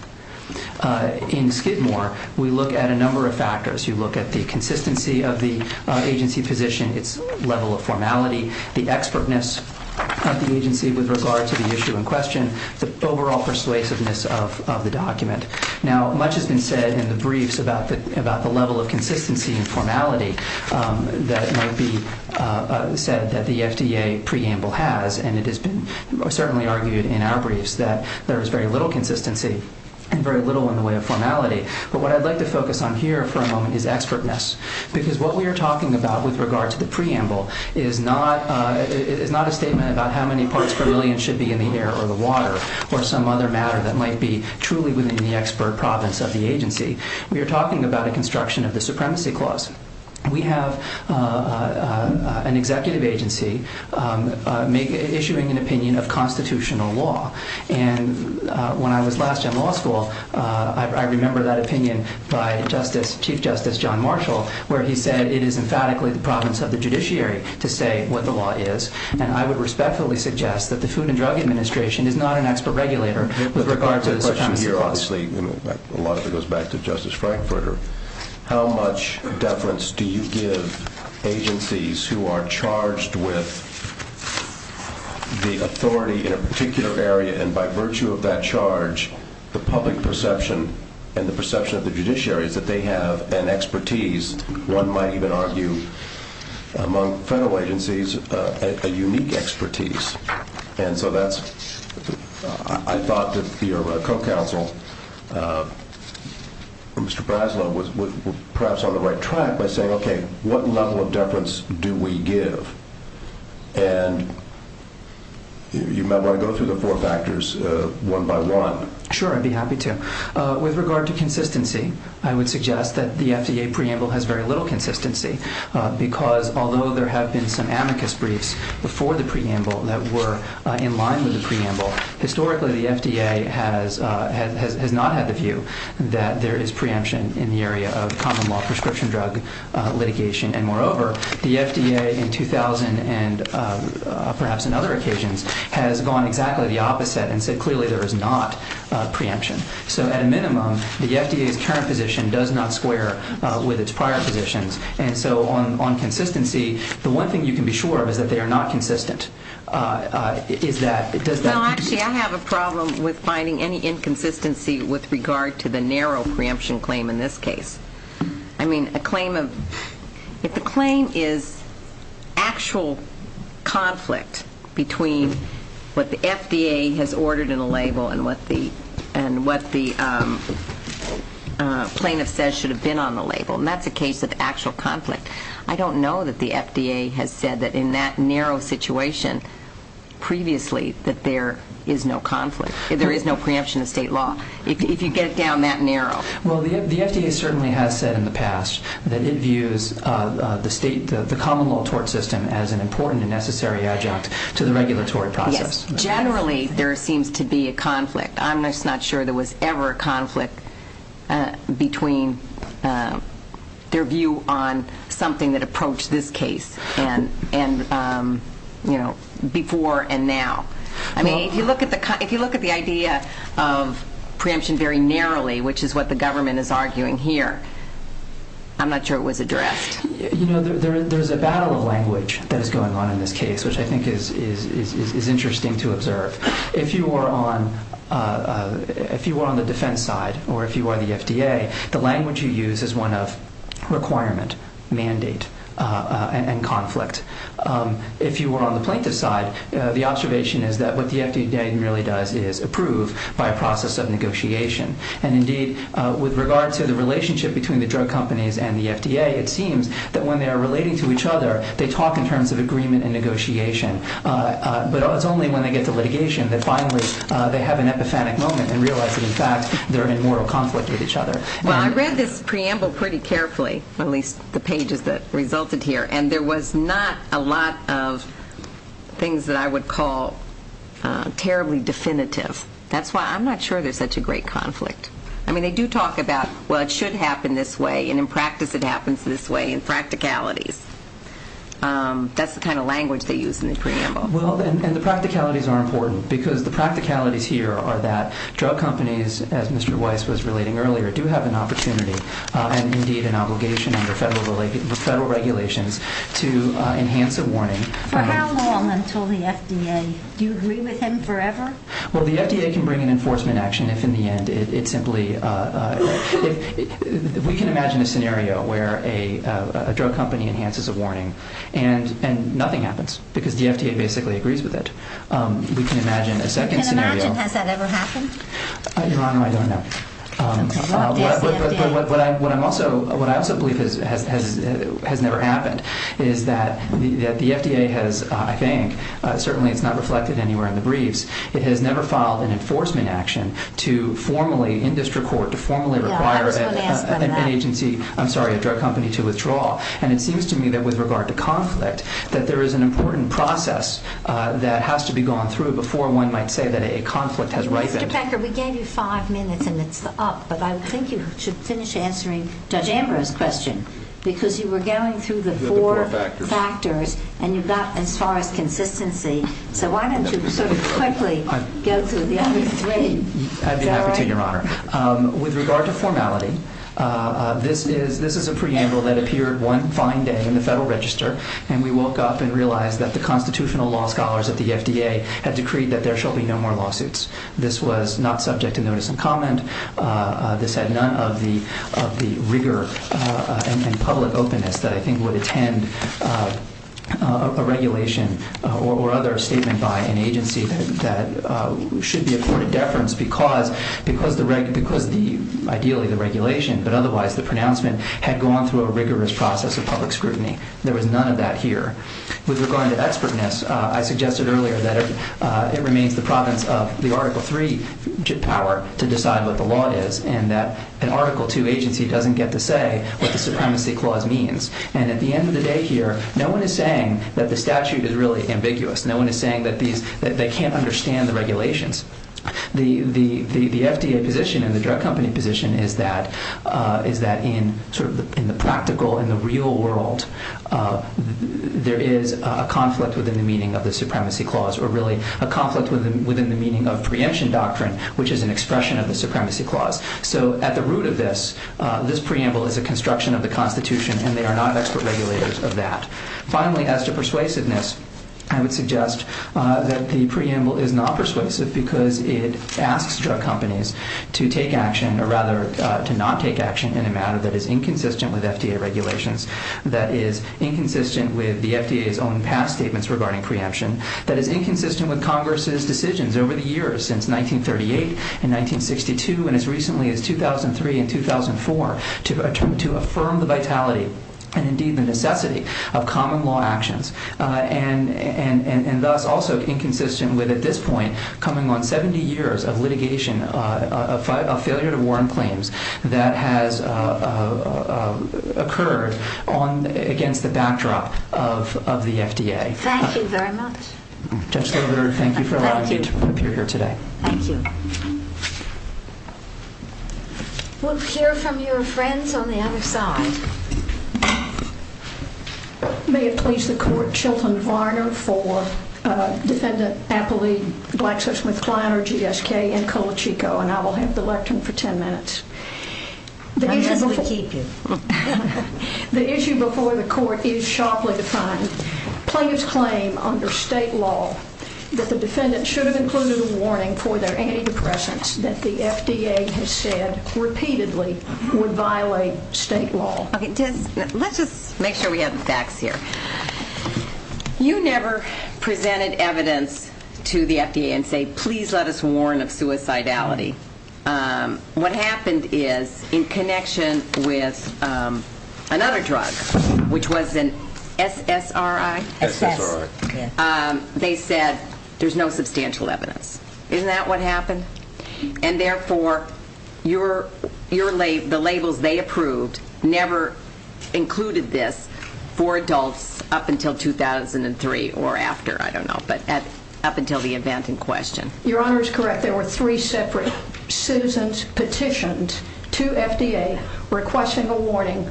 In Skidmore, we look at a number of factors. You look at the consistency of the agency position, its level of formality, the expertness of the agency with regard to the issue in question, the overall persuasiveness of the document. Now, much has been said in the briefs about the level of consistency and formality that might be said that the FDA preamble has. And it has been certainly argued in our briefs that there is very little consistency and very little in the way of formality. But what I'd like to focus on here for a moment is expertness. Because what we are talking about with regard to the preamble is not a statement about how many parts per million should be in the air or the water or some other matter that might be truly within the expert province of the agency. We are talking about a construction of the supremacy clause. We have an executive agency issuing an opinion of constitutional law. And when I was last in law school, I remember that opinion by Chief Justice John Marshall, where he said it is emphatically the province of the judiciary to say what the law is. And I would respectfully suggest that the Food and Drug Administration is not an expert regulator. With regard to this issue here, obviously, a lot of it goes back to Justice Frankfurter. How much deference do you give agencies who are charged with the authority in a particular area, and by virtue of that charge, the public perception and the perception of the judiciary that they have an expertise, one might even argue among federal agencies, a unique expertise. And so I thought that your co-counsel, Mr. Braslow, was perhaps on the right track by saying, okay, what level of deference do we give? And you might want to go through the four factors one by one. Sure, I'd be happy to. With regard to consistency, I would suggest that the FDA preamble has very little consistency because although there have been some amicus briefs before the preamble that were in line with the preamble, historically the FDA has not had a view that there is preemption in the area of common-law prescription drug litigation. And moreover, the FDA in 2000 and perhaps in other occasions has gone exactly the opposite and said clearly there is not preemption. So at a minimum, the FDA's current position does not square with its prior positions. And so on consistency, the one thing you can be sure of is that they are not consistent. I have a problem with finding any inconsistency with regard to the narrow preemption claim in this case. I mean, if the claim is actual conflict between what the FDA has ordered in the label and what the plaintiff says should have been on the label, and that's the case of actual conflict, I don't know that the FDA has said that in that narrow situation previously that there is no conflict, there is no preemption of state law, if you get down that narrow. Well, the FDA certainly has said in the past that it views the common-law tort system as an important and necessary adjunct to the regulatory process. Generally, there seems to be a conflict. I'm just not sure there was ever a conflict between their view on something that approached this case and, you know, before and now. I mean, if you look at the idea of preemption very narrowly, which is what the government is arguing here, I'm not sure it was addressed. You know, there is a battle of language that is going on in this case, which I think is interesting to observe. If you were on the defense side, or if you were the FDA, the language you use is one of requirement, mandate, and conflict. If you were on the plaintiff's side, the observation is that what the FDA really does is approve by a process of negotiation. And, indeed, with regard to the relationship between the drug companies and the FDA, it seems that when they are relating to each other, they talk in terms of agreement and negotiation. But it's only when they get the litigation that finally they have an episodic moment and realize that, in fact, they're in moral conflict with each other. Well, I read this preamble pretty carefully, at least the pages that resulted here, and there was not a lot of things that I would call terribly definitive. That's why I'm not sure there's such a great conflict. I mean, they do talk about, well, it should happen this way, and, in practice, it happens this way in practicalities. That's the kind of language they use in this preamble. Well, and the practicalities are important because the practicalities here are that drug companies, as Mr. Weiss was relating earlier, do have an opportunity and, indeed, an obligation under federal regulations to enhance the warning. For how long until the FDA? Do you agree with them forever? Well, the FDA can bring an enforcement action if, in the end, we can imagine a scenario where a drug company enhances a warning and nothing happens because the FDA basically agrees with it. We can imagine a second scenario. In America, has that ever happened? Not in Iran, but I don't know. But what I also believe has never happened is that the FDA has, I think, certainly it's not reflected anywhere in the briefs, it has never filed an enforcement action to formally, in district court, to formally require an agency, I'm sorry, a drug company to withdraw. And it seems to me that, with regard to conflict, that there is an important process that has to be gone through before one might say that a conflict has risen. Mr. Packer, we gave you five minutes and it's up, but I think you should finish answering Judge Amber's question because you were going through the four factors and you got, so why don't you sort of quickly go through the other three. With regard to formality, this is a preamble that appeared one fine day in the Federal Register and we woke up and realized that the constitutional law scholars at the FDA had decreed that there shall be no more lawsuits. This was not subject to notice and comment. This had none of the rigor and public openness that I think would attend a regulation or other statement by an agency that should be a court of deference because ideally the regulation, but otherwise the pronouncement, had gone through a rigorous process of public scrutiny. There was none of that here. With regard to expertness, I suggested earlier that it remains the province of the Article III power to decide what the law is and that an Article II agency doesn't get to say what the supremacy clause means. And at the end of the day here, no one is saying that the statute is really ambiguous. No one is saying that they can't understand the regulations. The FDA position and the drug company position is that in the practical, in the real world, there is a conflict within the meaning of the supremacy clause or really a conflict within the meaning of preemption doctrine, which is an expression of the supremacy clause. So at the root of this, this preamble is a construction of the Constitution and they are not expert regulators of that. Finally, as to persuasiveness, I would suggest that the preamble is not persuasive because it asks drug companies to take action, or rather to not take action in a matter that is inconsistent with FDA regulations, that is inconsistent with the FDA's own past statements regarding preemption, that is inconsistent with Congress's decisions over the years since 1938 and 1962 and as recently as 2003 and 2004 to affirm the vitality and indeed the necessity of common law actions and thus also inconsistent with at this point coming on 70 years of litigation, of failure to warn claims that has occurred against the backdrop of the FDA. Thank you very much. Judge Goldberg, thank you for allowing me to be here today. Thank you. We'll hear from your friends on the other side. May it please the Court, Sheldon Varner for Defendant Appley, Blacksmith-Kleiner, GSK, and Colachico, and I will have the lectern for 10 minutes. I'm going to eat you. The issue before the Court is sharply defined. Please claim under state law that the defendant should include in the warning for their antidepressants that the FDA has said repeatedly would violate state law. Let's just make sure we have the facts here. You never presented evidence to the FDA and say, please let us warn of suicidality. What happened is in connection with another drug, which was an SSRI, they said there's no substantial evidence. Isn't that what happened? And therefore, the labels they approved never included this for adults up until 2003 or after. I don't know, but that's up until the event in question. Your Honor is correct. requesting a warning,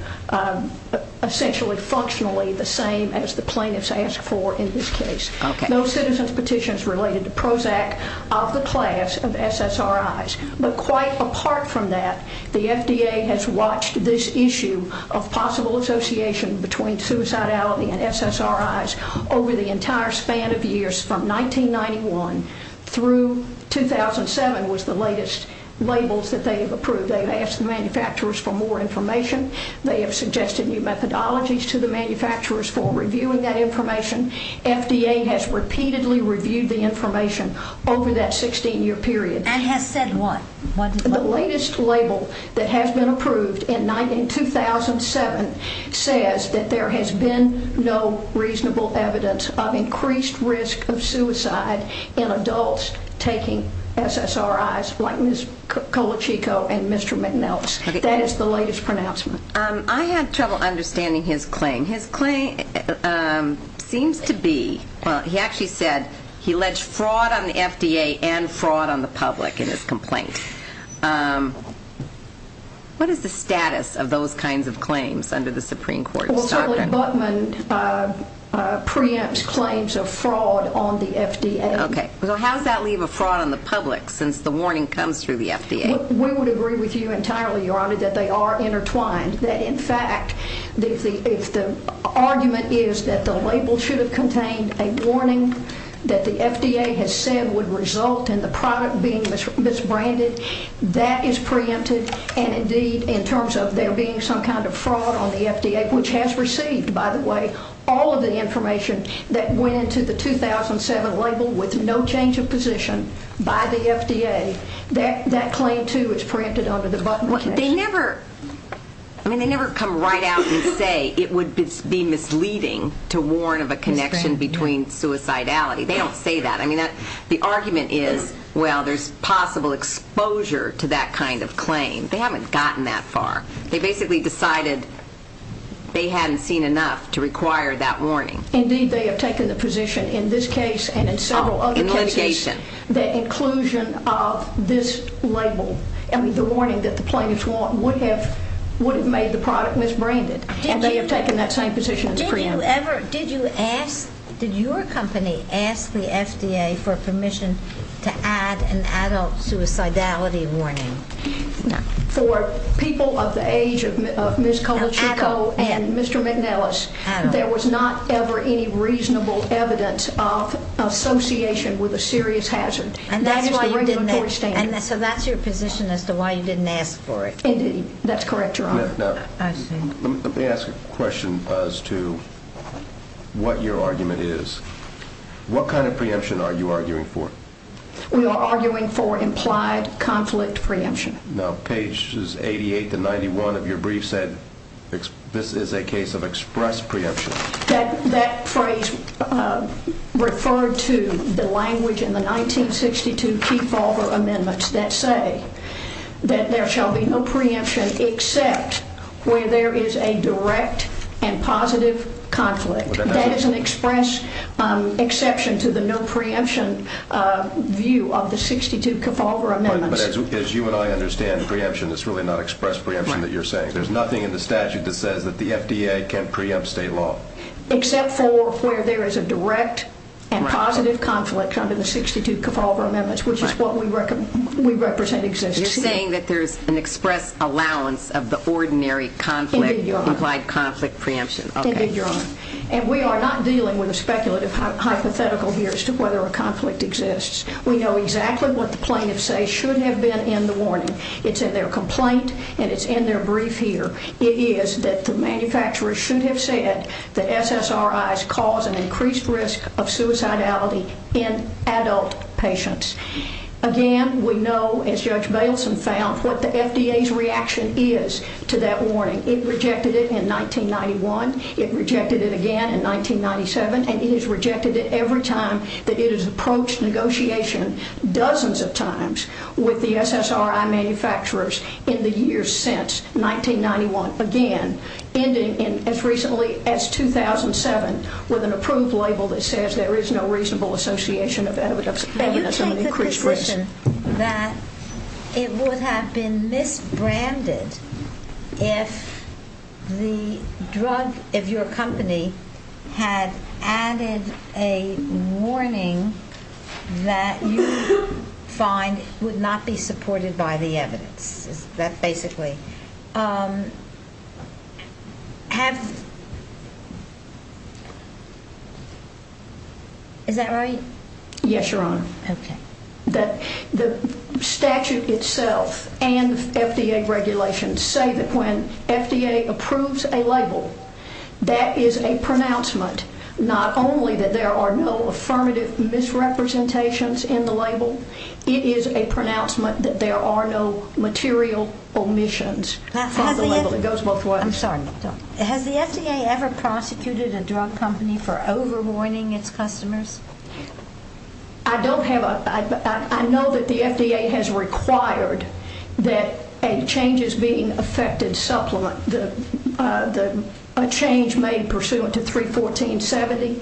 essentially functionally the same as the plaintiffs asked for in this case. No citizen's petitions related to Prozac of the class of SSRIs. But quite apart from that, the FDA has watched this issue of possible association between suicidality and SSRIs over the entire span of years from 1991 through 2007 was the latest labels that they have approved. They have asked manufacturers for more information. They have suggested new methodologies to the manufacturers for reviewing that information. FDA has repeatedly reviewed the information over that 16-year period. I have said one. The latest label that has been approved in 2007 says that there has been no reasonable evidence of increased risk of suicide in adults taking SSRIs like Ms. Colachico and Mr. McNelis. That is the latest pronouncement. I had trouble understanding his claim. His claim seems to be... He actually said he alleged fraud on the FDA and fraud on the public in his complaint. What is the status of those kinds of claims under the Supreme Court's doctrine? Okay, so how does that leave a fraud on the public since the warning comes through the FDA? We would agree with you entirely, Your Honor, that they are intertwined. In fact, if the argument is that the label should have contained a warning that the FDA has said would result in the product being misbranded, that is preempted. And indeed, in terms of there being some kind of fraud on the FDA, which has received, by the way, all of the information that went into the 2007 label with no change of position by the FDA, that claim, too, is preempted under the button test. They never... I mean, they never come right out and say it would be misleading to warn of a connection between suicidality. They don't say that. I mean, the argument is, well, there's possible exposure to that kind of claim. They haven't gotten that far. They basically decided they hadn't seen enough to require that warning. Indeed, they have taken the position in this case and in several other cases... of this label. I mean, the warning that the plaintiffs want would have made the product misbranded. And they have taken that same position. Did you ever... Did your company ask the FDA for permission to add an adult suicidality warning? No. For people of the age of Ms. Colachico and Mr. McNellis, there was not ever any reasonable evidence of association with a serious hazard. And so that's your position as to why you didn't ask for it. Indeed, that's correct, Your Honor. Now, let me ask a question as to what your argument is. What kind of preemption are you arguing for? We are arguing for implied conflict preemption. Now, pages 88 to 91 of your brief said this is a case of express preemption. That phrase referred to the language in the 1962 Kefauver Amendments that say that there shall be no preemption except where there is a direct and positive conflict. That is an express exception to the no preemption view of the 62 Kefauver Amendments. But as you and I understand preemption, it's really not express preemption that you're saying. There's nothing in the statute that says that the FDA can't preempt state law. Except for where there is a direct and positive conflict under the 62 Kefauver Amendments, which is what we represent exists. You're saying that there's an express allowance of the ordinary conflict implied conflict preemption. Indeed, Your Honor. And we are not dealing with a speculative hypothetical here as to whether a conflict exists. We know exactly what the plaintiffs say shouldn't have been in the warning. It's in their complaint and it's in their brief here. It is that the manufacturers should have said that SSRIs cause an increased risk of suicidality in adult patients. Again, we know, as Judge Baleson found, what the FDA's reaction is to that warning. It rejected it in 1991. It rejected it again in 1997. And it has rejected it every time that it has approached negotiation dozens of times with the SSRI manufacturers in the years since. 1991, again, ending as recently as 2007 with an approved label that says there is no reasonable association of evidence under the same increased risk. That it would have been misbranded if the drugs of your company had added a warning that you find would not be supported by the evidence. That's basically it. Is that right? Yes, Your Honor. The statute itself and FDA regulations say that when FDA approves a label, that is a pronouncement. Not only that there are no affirmative misrepresentations in the label, it is a pronouncement that there are no material omissions. I'm sorry. Has the FDA ever prosecuted a drug company for over-warning its customers? I know that the FDA has required that a change made pursuant to 31470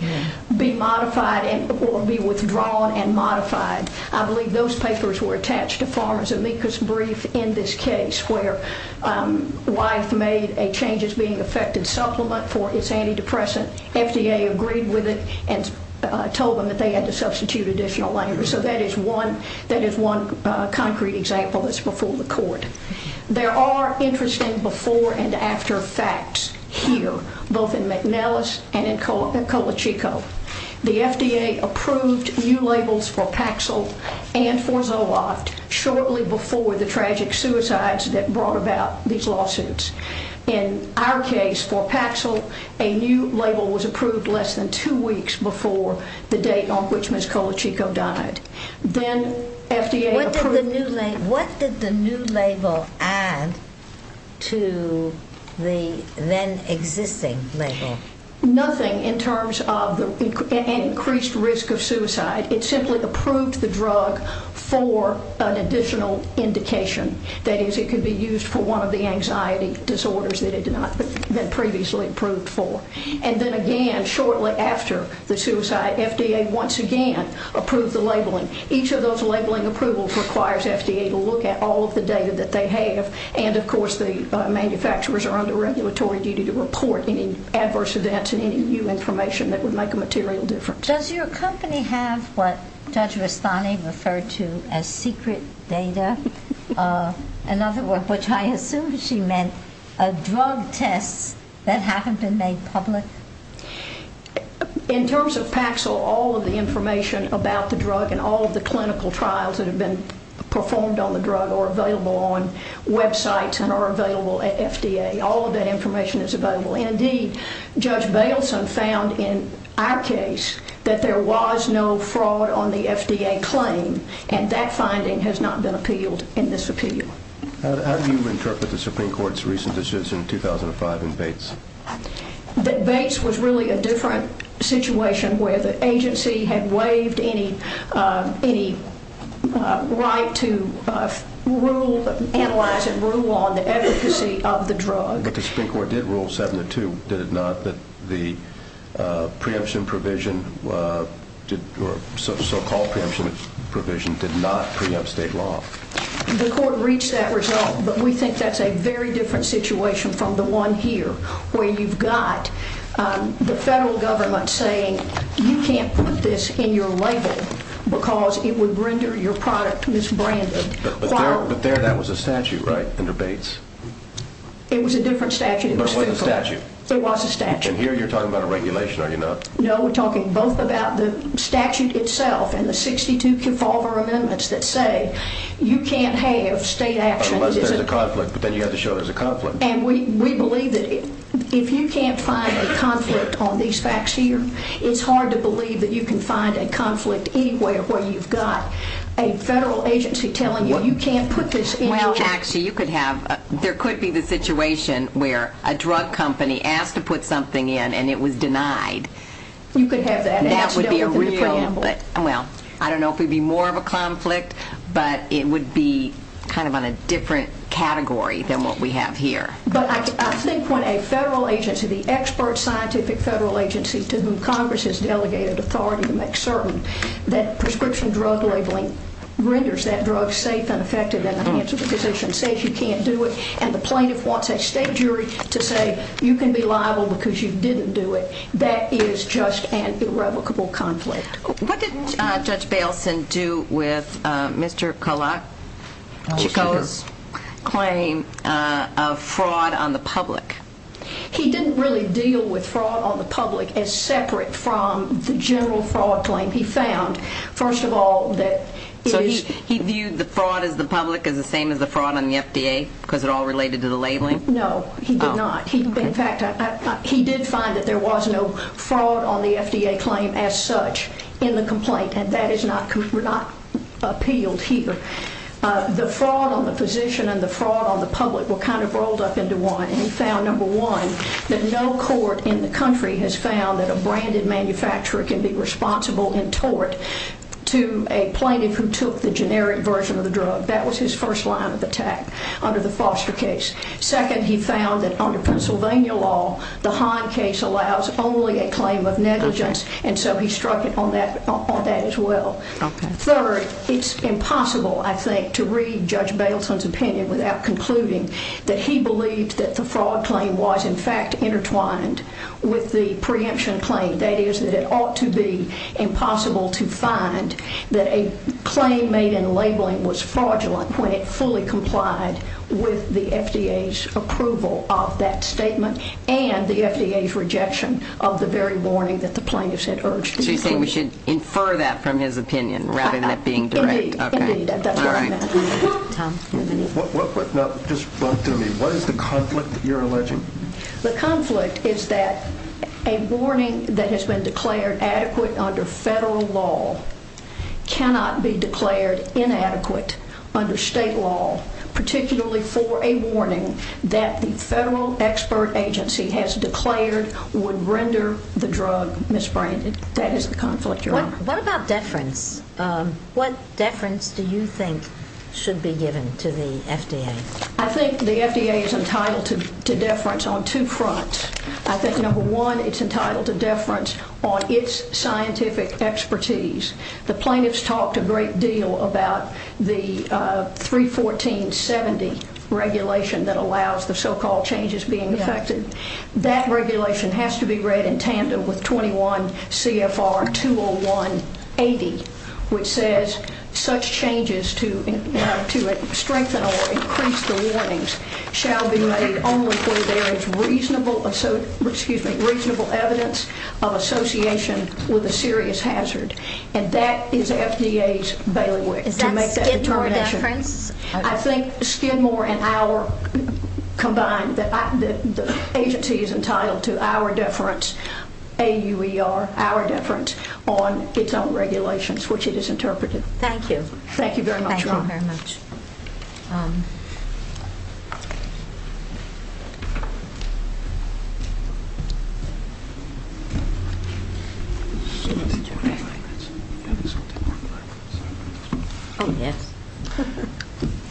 be modified or be withdrawn and modified. I believe those papers were attached to Farmer's Amicus brief in this case where Wyeth made a change as being an effective supplement for its antidepressant. FDA agreed with it and told them that they had to substitute additional language. So that is one concrete example that's before the court. There are interesting before and after facts here, both in McNellis and in Colachico. The FDA approved new labels for Paxil and for Zoloft shortly before the tragic suicides that brought about these lawsuits. In our case, for Paxil, a new label was approved less than two weeks before the date on which Ms. Colachico died. What did the new label add to the then existing label? Nothing in terms of an increased risk of suicide. It simply approved the drug for an additional indication. That is, it could be used for one of the anxiety disorders that it had not been previously approved for. And then again, shortly after the suicide, FDA once again approved the labeling. Each of those labeling approvals requires FDA to look at all of the data that they have, and of course the manufacturers are under regulatory duty to report any adverse events and any new information that would make a material difference. Does your company have what Judge Rossani referred to as secret data, another word which I assume she meant a drug test that hasn't been made public? In terms of Paxil, all of the information about the drug and all of the clinical trials that have been performed on the drug are available on websites and are available at FDA. All of that information is available. Indeed, Judge Baleson found in our case that there was no fraud on the FDA claim, and that finding has not been appealed in this appeal. How do you interpret the Supreme Court's recent decisions in 2005 in Bates? Bates was really a different situation where the agency had waived any right to rule, analyze, and rule on the efficacy of the drug. But the Supreme Court did rule 702, did it not, that the preemption provision, the so-called preemption provision, did not preempt state law? The Court reached that result, but we think that's a very different situation from the one here where you've got the federal government saying you can't put this in your label because it would render your product misbranded. But there that was a statute, right, under Bates? It was a different statute. It was a statute. It was a statute. And here you're talking about a regulation, are you not? No, we're talking both about the statute itself and the 62 Kefauver Amendments that say you can't have state action. It must have been a conflict, but then you have to show there's a conflict. And we believe that if you can't find a conflict on these facts here, it's hard to believe that you can find a conflict anywhere where you've got a federal agency telling you you can't put this in your label. Well, actually, there could be the situation where a drug company asked to put something in and it was denied. You could have that. Well, I don't know if it would be more of a conflict, but it would be kind of on a different category than what we have here. But I think when a federal agency, the expert scientific federal agency to whom Congress has delegated authority to make certain that prescription drug labeling renders that drug safe, unaffected, and an answer to the position that says you can't do it, and the plaintiff wants that state jury to say you can be liable because you didn't do it, that is just an irrevocable conflict. What did Judge Baileson do with Mr. Chikota's claim of fraud on the public? He didn't really deal with fraud on the public as separate from the general fraud claim. He found, first of all, that it is... He viewed the fraud of the public as the same as the fraud on the FDA because it all related to the labeling? No, he did not. In fact, he did find that there was no fraud on the FDA claim as such in the complaint, and that is not appealed here. The fraud on the position and the fraud on the public were kind of rolled up into one, and he found, number one, that no court in the country has found that a branded manufacturer can be responsible in tort to a plaintiff who took the generic version of the drug. That was his first line of attack under the Foster case. Second, he found that under Pennsylvania law, the Heim case allows only a claim of negligence, and so he struck it on that as well. Third, it's impossible, I think, to read Judge Baileson's opinion without concluding that he believed that the fraud claim was in fact intertwined with the preemption claim, that is, that it ought to be impossible to find that a claim made in labeling was fraudulent when it fully complied with the FDA's approval of that statement and the FDA's rejection of the very warning that the plaintiffs had urged. So you think we should infer that from his opinion rather than it being direct? Indeed, indeed, that does work. What is the conflict that you're alleging? The conflict is that a warning that has been declared adequate under federal law cannot be declared inadequate under state law, particularly for a warning that the federal expert agency has declared would render the drug misbranded. That is the conflict you're on. What about deference? What deference do you think should be given to the FDA? I think the FDA is entitled to deference on two fronts. I think, number one, it's entitled to deference on its scientific expertise. The plaintiffs talked a great deal about the 31470 regulation that allows the so-called changes being effected. That regulation has to be read in tandem with 21 CFR 20180, which says such changes to strengthen or increase the reliance shall be made only through there is reasonable evidence of association with a serious hazard. And that is FDA's bailiwick to make that determination. I think Skidmore and our combined, the agency is entitled to our deference, AUER, our deference on its own regulations, which it has interpreted. Thank you. Thank you very much. Thank you all very much.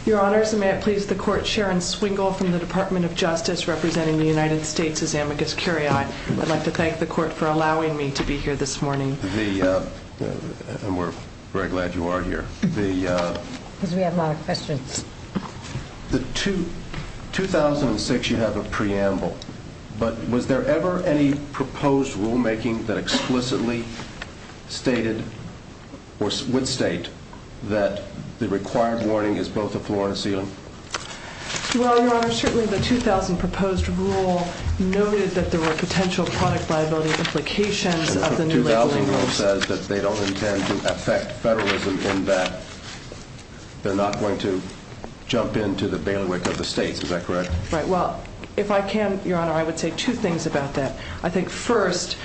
Your Honor, may I please have the court Sharon Swingle from the Department of Justice representing the United States as amicus curiae. I'd like to thank the court for allowing me to be here this morning. And we're very glad you are here. Because we have a lot of questions. 2006, you have a preamble. But was there ever any proposed rulemaking that explicitly stated or would state that the required warning is both a floor and a ceiling? Well, Your Honor, certainly the 2000 proposed rule noted that there were potential product liability implications of the new regulation. The 2000 rule says that they don't intend to affect federalism in that they're not going to jump into the bailiwick of the states. Is that correct? Right, well, if I can, Your Honor, I would say two things about that. I think first,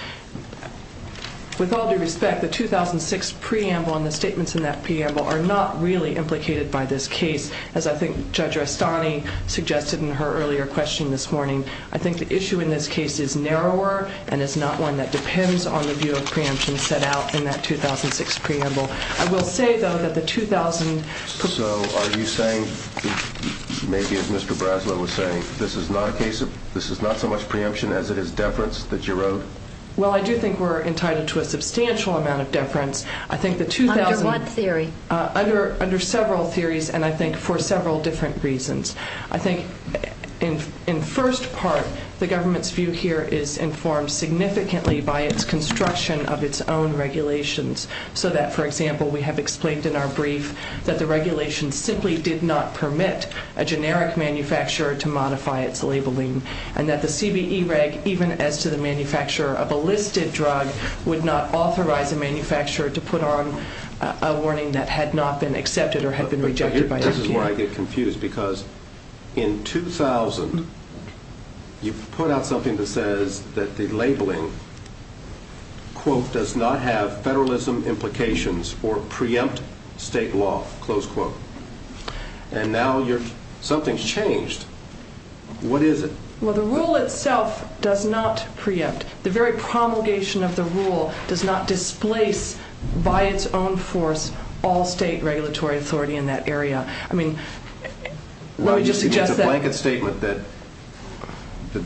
with all due respect, the 2006 preamble and the statements in that preamble are not really implicated by this case, as I think Judge Astani suggested in her earlier question this morning. I think the issue in this case is narrower and is not one that depends on the view of preemption set out in that 2006 preamble. I will say, though, that the 2000... So are you saying, maybe as Mr. Braslow was saying, this is not so much preemption as it is deference that you wrote? Well, I do think we're entitled to a substantial amount of deference. Under what theory? Under several theories and, I think, for several different reasons. I think, in first part, the government's view here is informed significantly by its construction of its own regulations so that, for example, we have explained in our brief that the regulations simply did not permit a generic manufacturer to modify its labeling and that the CBE reg, even as to the manufacturer of a listed drug, would not authorize the manufacturer to put on a warning that had not been accepted or had been rejected by the CBE. This is where I get confused because in 2000, you put out something that says that the labeling, quote, does not have federalism implications or preempt state law, close quote. And now something's changed. What is it? Well, the rule itself does not preempt. The very promulgation of the rule does not displace by its own force all state regulatory authority in that area. I mean, let me just suggest that... Well, you gave a blanket statement that the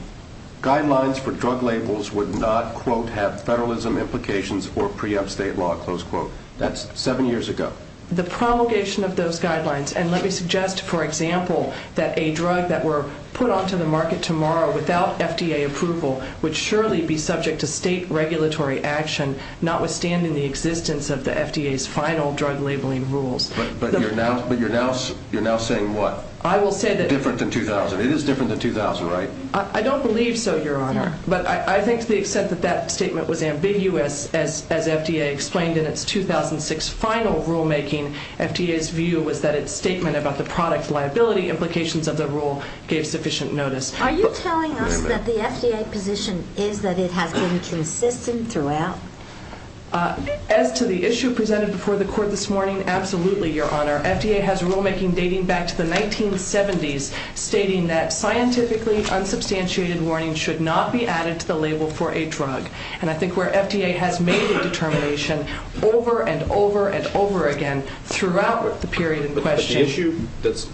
guidelines for drug labels would not, quote, have federalism implications or preempt state law, close quote. That's seven years ago. The promulgation of those guidelines, and let me suggest, for example, that a drug that were put onto the market tomorrow without FDA approval would surely be subject to state regulatory action, notwithstanding the existence of the FDA's final drug labeling rules. But you're now saying what? I will say that... It's different than 2000. It is different than 2000, right? I don't believe so, Your Honor. But I think to the extent that that statement was ambiguous, as FDA explained in its 2006 final rulemaking, FDA's view was that its statement about the product liability implications of the rule gave sufficient notice. Are you telling us that the FDA position is that it has been consistent throughout? As to the issue presented before the Court this morning, absolutely, Your Honor. FDA has rulemaking dating back to the 1970s, stating that scientifically unsubstantiated warnings should not be added to the label for a drug. And I think where FDA has made a determination over and over and over again throughout the period in question... But the issue that's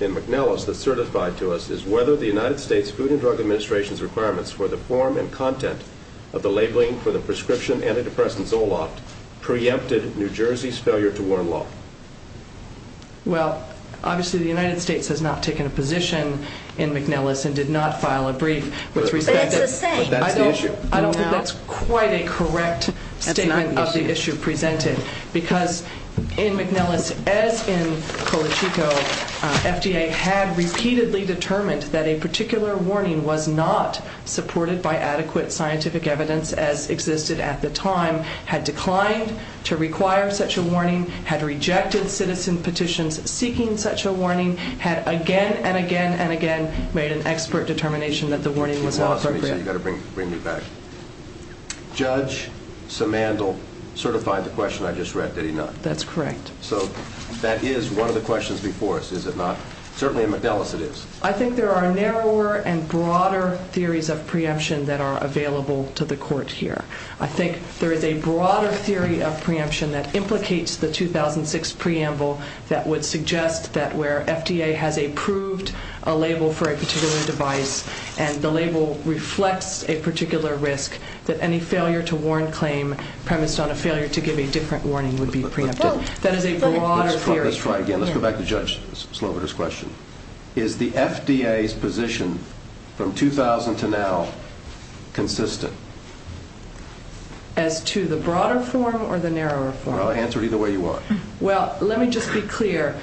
in McNellis that's certified to us is whether the United States Food and Drug Administration's requirements for the form and content of the labeling for the prescription antidepressant Zoloft preempted New Jersey's failure to warn law. Well, obviously, the United States has not taken a position in McNellis and did not file a brief. But that's the issue. I don't think that's quite a correct statement of the issue presented. Because in McNellis, as in Cochico, FDA had repeatedly determined that a particular warning was not supported by adequate scientific evidence as existed at the time, had declined to require such a warning, had rejected citizen petitions seeking such a warning, had again and again and again made an expert determination that the warning was not... You've got to bring me back. Judge Simandl certified the question I just read, did he not? That's correct. So that is one of the questions before us, is it not? Certainly in McNellis it is. I think there are narrower and broader theories of preemption that are available to the court here. I think there is a broader theory of preemption that implicates the 2006 preamble that would suggest that where FDA has approved a label for a particular device and the label reflects a particular risk, that any failure to warn claim premised on a failure to give a different warning would be preempted. Let's try again. Let's go back to Judge Slover's question. Is the FDA's position from 2000 to now consistent? As to the broader form or the narrower form? Answer it either way you want. Well, let me just be clear.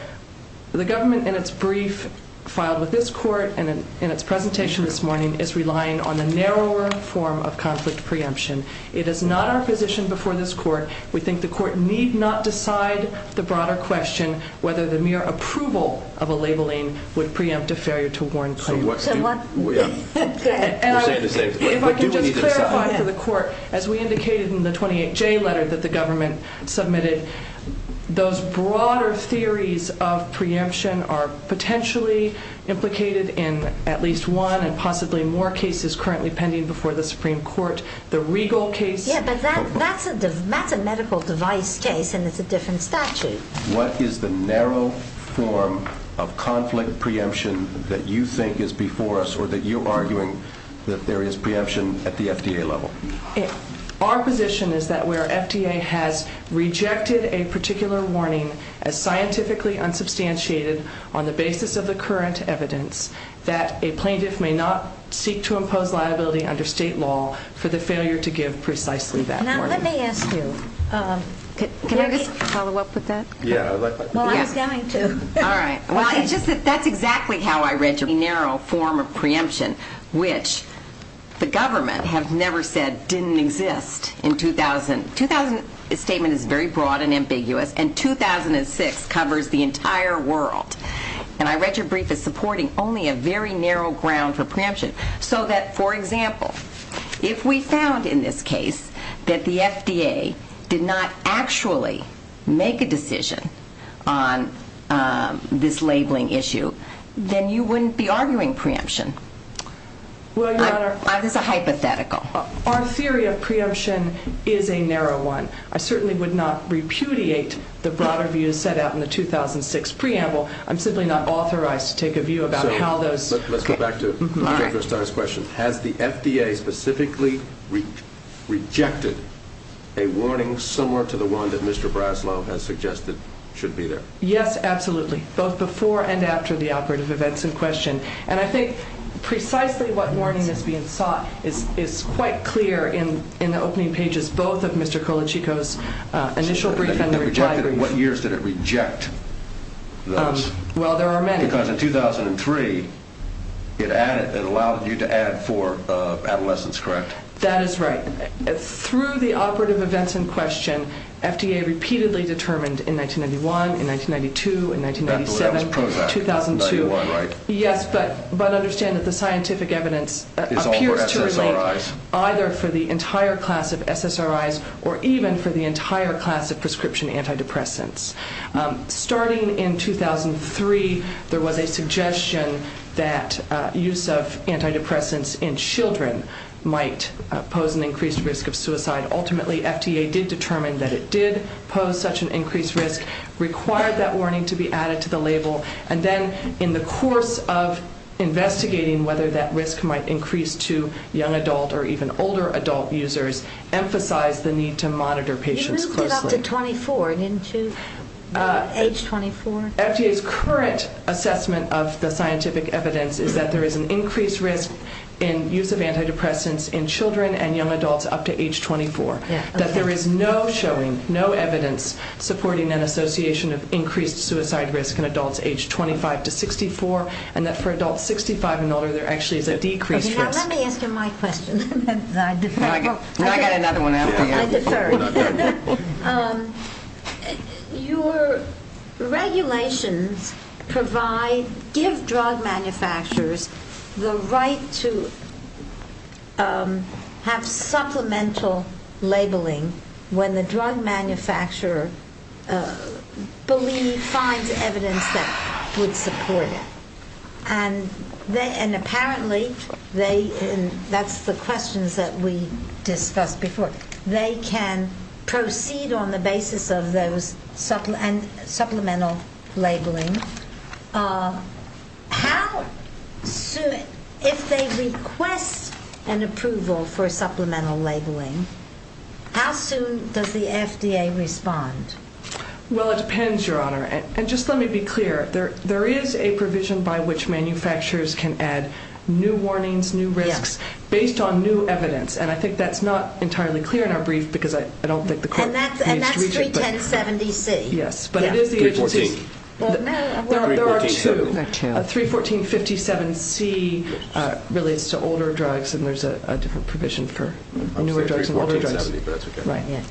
The government in its brief filed with this court and in its presentation this morning is relying on a narrower form of conflict preemption. It is not our position before this court. We think the court need not decide the broader question whether the mere approval of a labeling would preempt a failure to warn claim. It might be too clear for the court. As we indicated in the 28J letter that the government submitted, those broader theories of preemption are potentially implicated in at least one and possibly more cases currently pending before the Supreme Court. Yeah, but that's a medical device case and it's a different statute. What is the narrow form of conflict preemption that you think is before us or that you're arguing that there is preemption at the FDA level? Our position is that where FDA has rejected a particular warning as scientifically unsubstantiated on the basis of the current evidence that a plaintiff may not seek to impose liability under state law for the failure to give precisely that warning. Now, let me ask you. Can I follow up with that? Yeah. Well, I was going to. All right. Well, that's exactly how I read your narrow form of preemption which the government has never said didn't exist in 2000. The statement is very broad and ambiguous and 2006 covers the entire world. And I read your brief supporting only a very narrow ground for preemption so that, for example, if we found in this case that the FDA did not actually make a decision on this labeling issue, then you wouldn't be arguing preemption. I'm just a hypothetical. On theory, a preemption is a narrow one. I certainly would not repudiate the broader view set out in the 2006 preamble. I'm simply not authorized to take a view about how those... Let's go back to Mr. Gerstein's question. Has the FDA specifically rejected a warning similar to the one that Mr. Braslow has suggested should be there? Yes, absolutely. Both before and after the operative events in question. And I think precisely what warning is being sought is quite clear in the opening pages both of Mr. Colachico's initial brief and their diagrams. In what years did it reject those? Well, there are many. Because in 2003, it allowed you to add it for adolescents, correct? That is right. Through the operative events in question, FDA repeatedly determined in 1991, in 1992, in 1997, 2002. Yes, but understand that the scientific evidence appeared to relate either for the entire class of SSRIs or even for the entire class of prescription antidepressants. Starting in 2003, there was a suggestion that use of antidepressants in children might pose an increased risk of suicide. Ultimately, FDA did determine that it did pose such an increased risk, required that warning to be added to the label, and then in the course of investigating whether that risk might increase to young adult or even older adult users, emphasized the need to monitor patients closely. Up to 24, didn't you? Age 24? FDA's current assessment of the scientific evidence is that there is an increased risk in use of antidepressants in children and young adults up to age 24. That there is no showing, no evidence, supporting that association of increased suicide risk in adults age 25 to 64, and that for adults 65 and older, there actually is a decreased risk. Let me answer my question. I've got another one after you. Your regulations provide, give drug manufacturers the right to have supplemental labeling when the drug manufacturer believes, finds evidence to support it. Apparently, that's the question that we discussed before. They can proceed on the basis of those supplemental labeling. If they request an approval for supplemental labeling, how soon does the FDA respond? Well, it depends, Your Honor. Just let me be clear. There is a provision by which manufacturers can add new warnings, new risks based on new evidence, and I think that's not entirely clear in our brief because I don't think the court can reach it. And that's 31070C. Yes, but it is the agency. Well, no. There are two. 31457C relates to older drugs, and there's a different provision for newer drugs and older drugs. 31457C. Right, yes.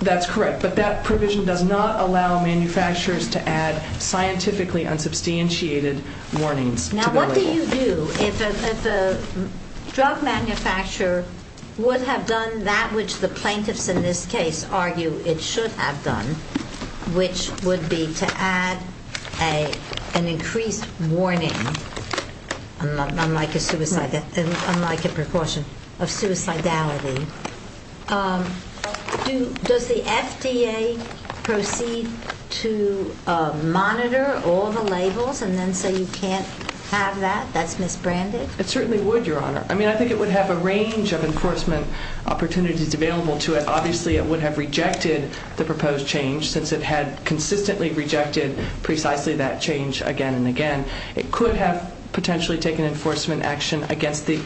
That's correct, but that provision does not allow manufacturers to add scientifically unsubstantiated warnings. Now, what do you do if a drug manufacturer would have done that which the plaintiffs in this case argue it should have done, which would be to add an increased warning, unlike a precaution of suicidality, does the FDA proceed to monitor all the labels and then say you can't have that, that's misbranded? It certainly would, Your Honor. I mean, I think it would have a range of enforcement opportunities available to it. Obviously, it would have rejected the proposed change since it had consistently rejected precisely that change again and again. It could have potentially taken enforcement action against the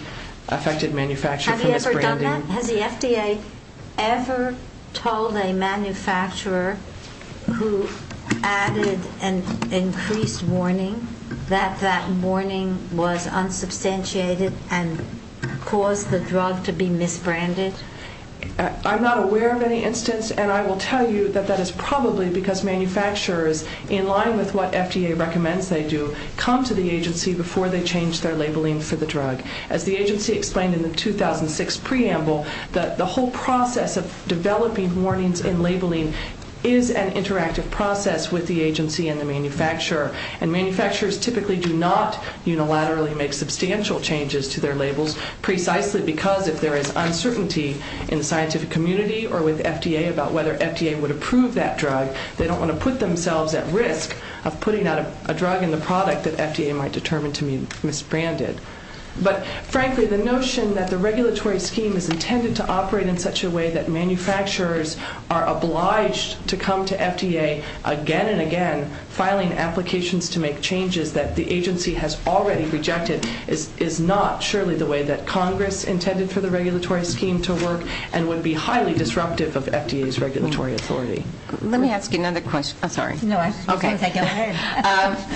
affected manufacturer. Have you ever done that? Has the FDA ever told a manufacturer who added an increased warning that that warning was unsubstantiated and caused the drug to be misbranded? I'm not aware of any instance, and I will tell you that that is probably because manufacturers, in line with what FDA recommends they do, come to the agency before they change their labeling for the drug. As the agency explained in the 2006 preamble, the whole process of developing warnings and labeling is an interactive process with the agency and the manufacturer, and manufacturers typically do not unilaterally make substantial changes to their labels precisely because if there is uncertainty in the scientific community or with FDA about whether FDA would approve that drug, they don't want to put themselves at risk of putting a drug in the product that FDA might determine to be misbranded. But frankly, the notion that the regulatory scheme is intended to operate in such a way that manufacturers are obliged to come to FDA again and again, filing applications to make changes that the agency has already rejected is not surely the way that Congress intended for the regulatory scheme to work and would be highly disruptive of FDA's regulatory authority. Let me ask you another question. Oh, sorry. No, go ahead.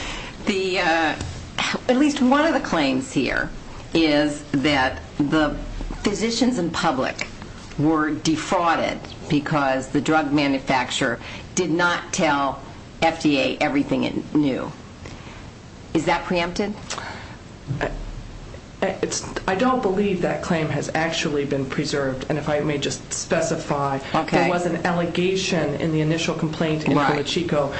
At least one of the claims here is that the physicians in public were defrauded because the drug manufacturer did not tell FDA everything it knew. Is that preempted? I don't believe that claim has actually been preserved, and if I may just specify, there was an allegation in the initial complaint in Puerto Chico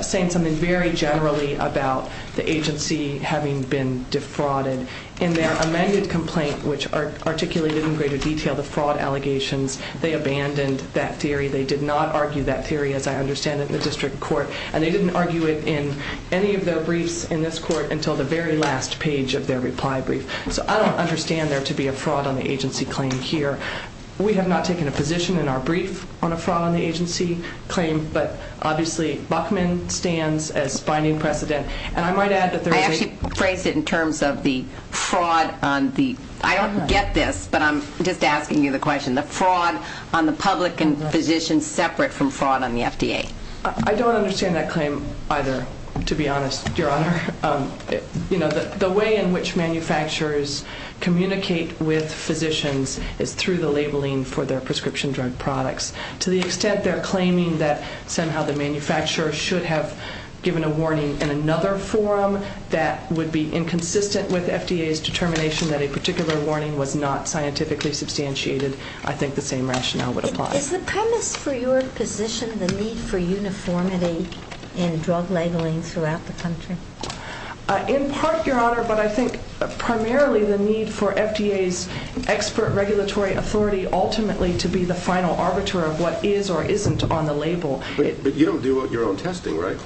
saying something very generally about the agency having been defrauded. In their amended complaint, which articulated in greater detail the fraud allegations, they abandoned that theory. They did not argue that theory, as I understand it, in the district court, and they didn't argue it in any of their briefs in this court until the very last page of their reply brief. So I don't understand there to be a fraud on the agency claim here. We have not taken a position in our brief on a fraud on the agency claim, but obviously Buckman stands as binding precedent. And I might add that there is a- I actually phrased it in terms of the fraud on the-I don't get this, but I'm just asking you the question. The fraud on the public and physicians separate from fraud on the FDA. I don't understand that claim either, to be honest, Your Honor. The way in which manufacturers communicate with physicians is through the labeling for their prescription drug products. To the extent they're claiming that somehow the manufacturer should have given a warning in another form that would be inconsistent with FDA's determination that a particular warning was not scientifically substantiated, I think the same rationale would apply. Is the premise for your position the need for uniformity in drug labeling throughout the country? In part, Your Honor, but I think primarily the need for FDA's expert regulatory authority ultimately to be the final arbiter of what is or isn't on the label. But you don't do your own testing, right?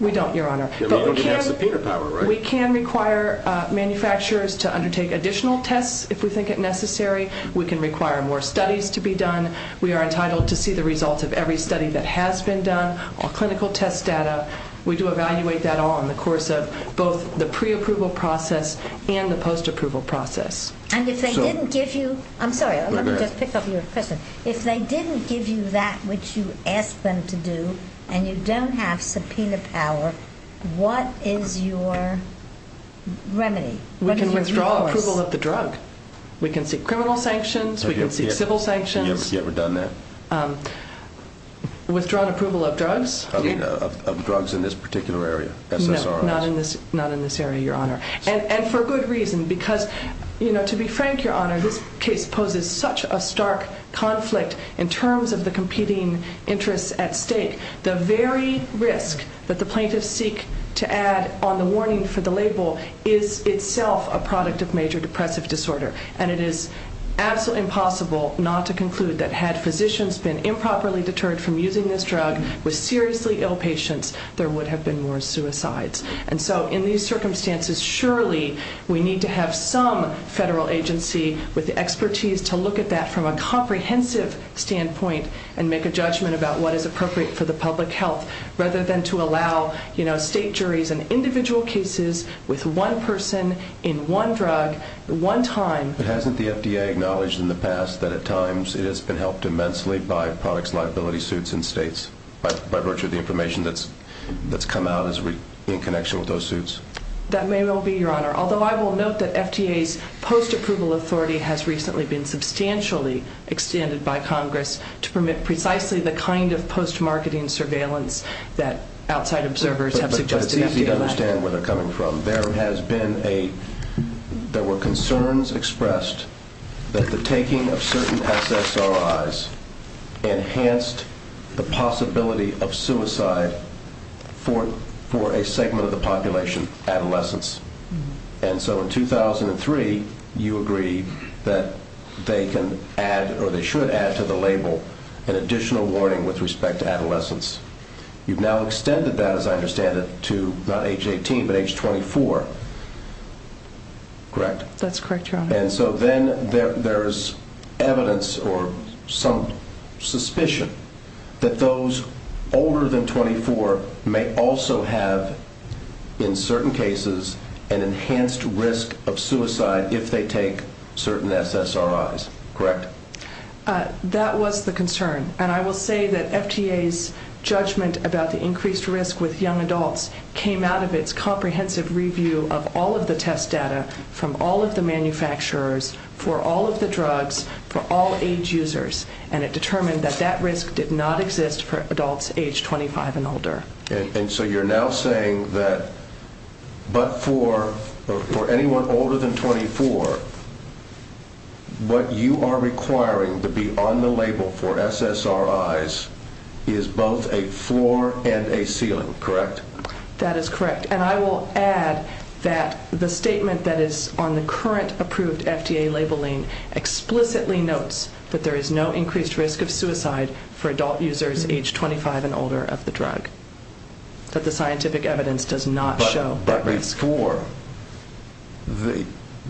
We don't, Your Honor. You're not going to pass the Peter Power, right? We can require manufacturers to undertake additional tests if we think it necessary. We can require more studies to be done. We are entitled to see the results of every study that has been done or clinical test data. We do evaluate that all in the course of both the pre-approval process and the post-approval process. And if they didn't give you, I'm sorry, let me just pick up your question. If they didn't give you that which you asked them to do and you don't have subpoena power, what is your remedy? We can withdraw approval of the drug. We can seek criminal sanctions. We can seek civil sanctions. Have you ever done that? Withdrawn approval of drugs? I mean of drugs in this particular area, SSRIs. No, not in this area, Your Honor. And for good reason because, you know, to be frank, Your Honor, this poses such a stark conflict in terms of the competing interests at stake. The very risk that the plaintiffs seek to add on the warning for the label is itself a product of major depressive disorder. And it is absolutely impossible not to conclude that had physicians been improperly deterred from using this drug with seriously ill patients, there would have been more suicides. And so in these circumstances, surely we need to have some federal agency with the expertise to look at that from a comprehensive standpoint and make a judgment about what is appropriate for the public health rather than to allow, you know, state juries in individual cases with one person in one drug at one time. But hasn't the FDA acknowledged in the past that at times it has been helped immensely by products liability suits in states by virtue of the information that's come out in connection with those suits? That may well be, Your Honor. Although I will note that FDA's post-approval authority has recently been substantially extended by Congress to permit precisely the kind of post-marketing surveillance that outside observers have suggested. But it's easy to understand where they're coming from. There has been a – there were concerns expressed that the taking of certain SSRIs enhanced the possibility of suicide for a segment of the population, adolescents. And so in 2003, you agreed that they can add or they should add to the label an additional warning with respect to adolescents. You've now extended that, as I understand it, to not age 18 but age 24, correct? That's correct, Your Honor. And so then there's evidence or some suspicion that those older than 24 may also have, in certain cases, an enhanced risk of suicide if they take certain SSRIs, correct? That was the concern. And I will say that FDA's judgment about the increased risk with young adults came out of its comprehensive review of all of the test data from all of the manufacturers for all of the drugs for all age users. And it determined that that risk did not exist for adults age 25 and older. And so you're now saying that but for anyone older than 24, what you are requiring to be on the label for SSRIs is both a floor and a ceiling, correct? That is correct. And I will add that the statement that is on the current approved FDA labeling explicitly notes that there is no increased risk of suicide for adult users age 25 and older of the drug, that the scientific evidence does not show that risk. But before,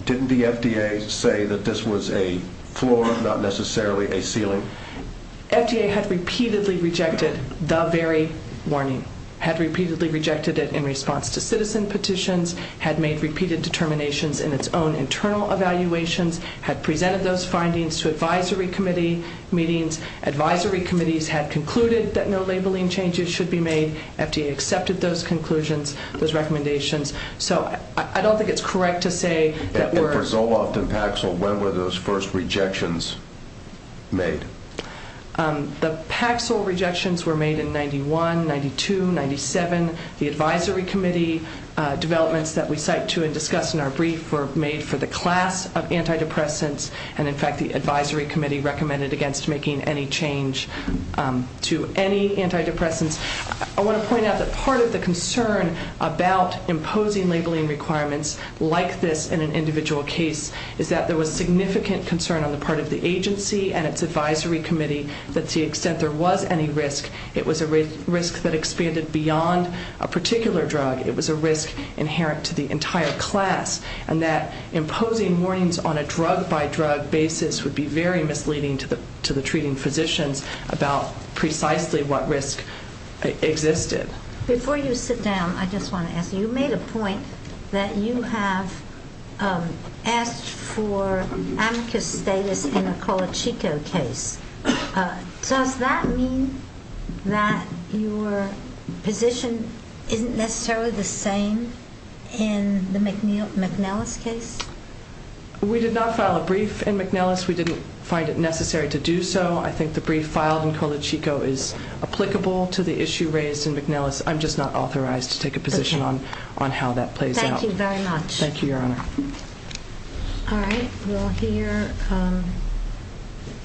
didn't the FDA say that this was a floor, not necessarily a ceiling? FDA had repeatedly rejected the very warning, had repeatedly rejected it in response to citizen petitions, had made repeated determinations in its own internal evaluations, had presented those findings to advisory committee meetings. Advisory committees had concluded that no labeling changes should be made. FDA accepted those conclusions, those recommendations. So I don't think it's correct to say that we're- And for Zoloft and Paxil, when were those first rejections made? The Paxil rejections were made in 91, 92, 97. The advisory committee developments that we cite to and discuss in our brief were made for the class of antidepressants. And, in fact, the advisory committee recommended against making any change to any antidepressants. I want to point out that part of the concern about imposing labeling requirements like this in an individual case is that there was significant concern on the part of the agency and its advisory committee that to the extent there was any risk, it was a risk that expanded beyond a particular drug. It was a risk inherent to the entire class. And that imposing warnings on a drug-by-drug basis would be very misleading to the treating physicians about precisely what risk existed. Before you sit down, I just want to ask you, you made a point that you have asked for antithesis data in a Colachico case. Does that mean that your position isn't necessarily the same in the McNellis case? We did not file a brief in McNellis. We didn't find it necessary to do so. I think the brief filed in Colachico is applicable to the issue raised in McNellis. I'm just not authorized to take a position on how that plays out. Thank you very much. Thank you, Your Honor. All right. We'll hear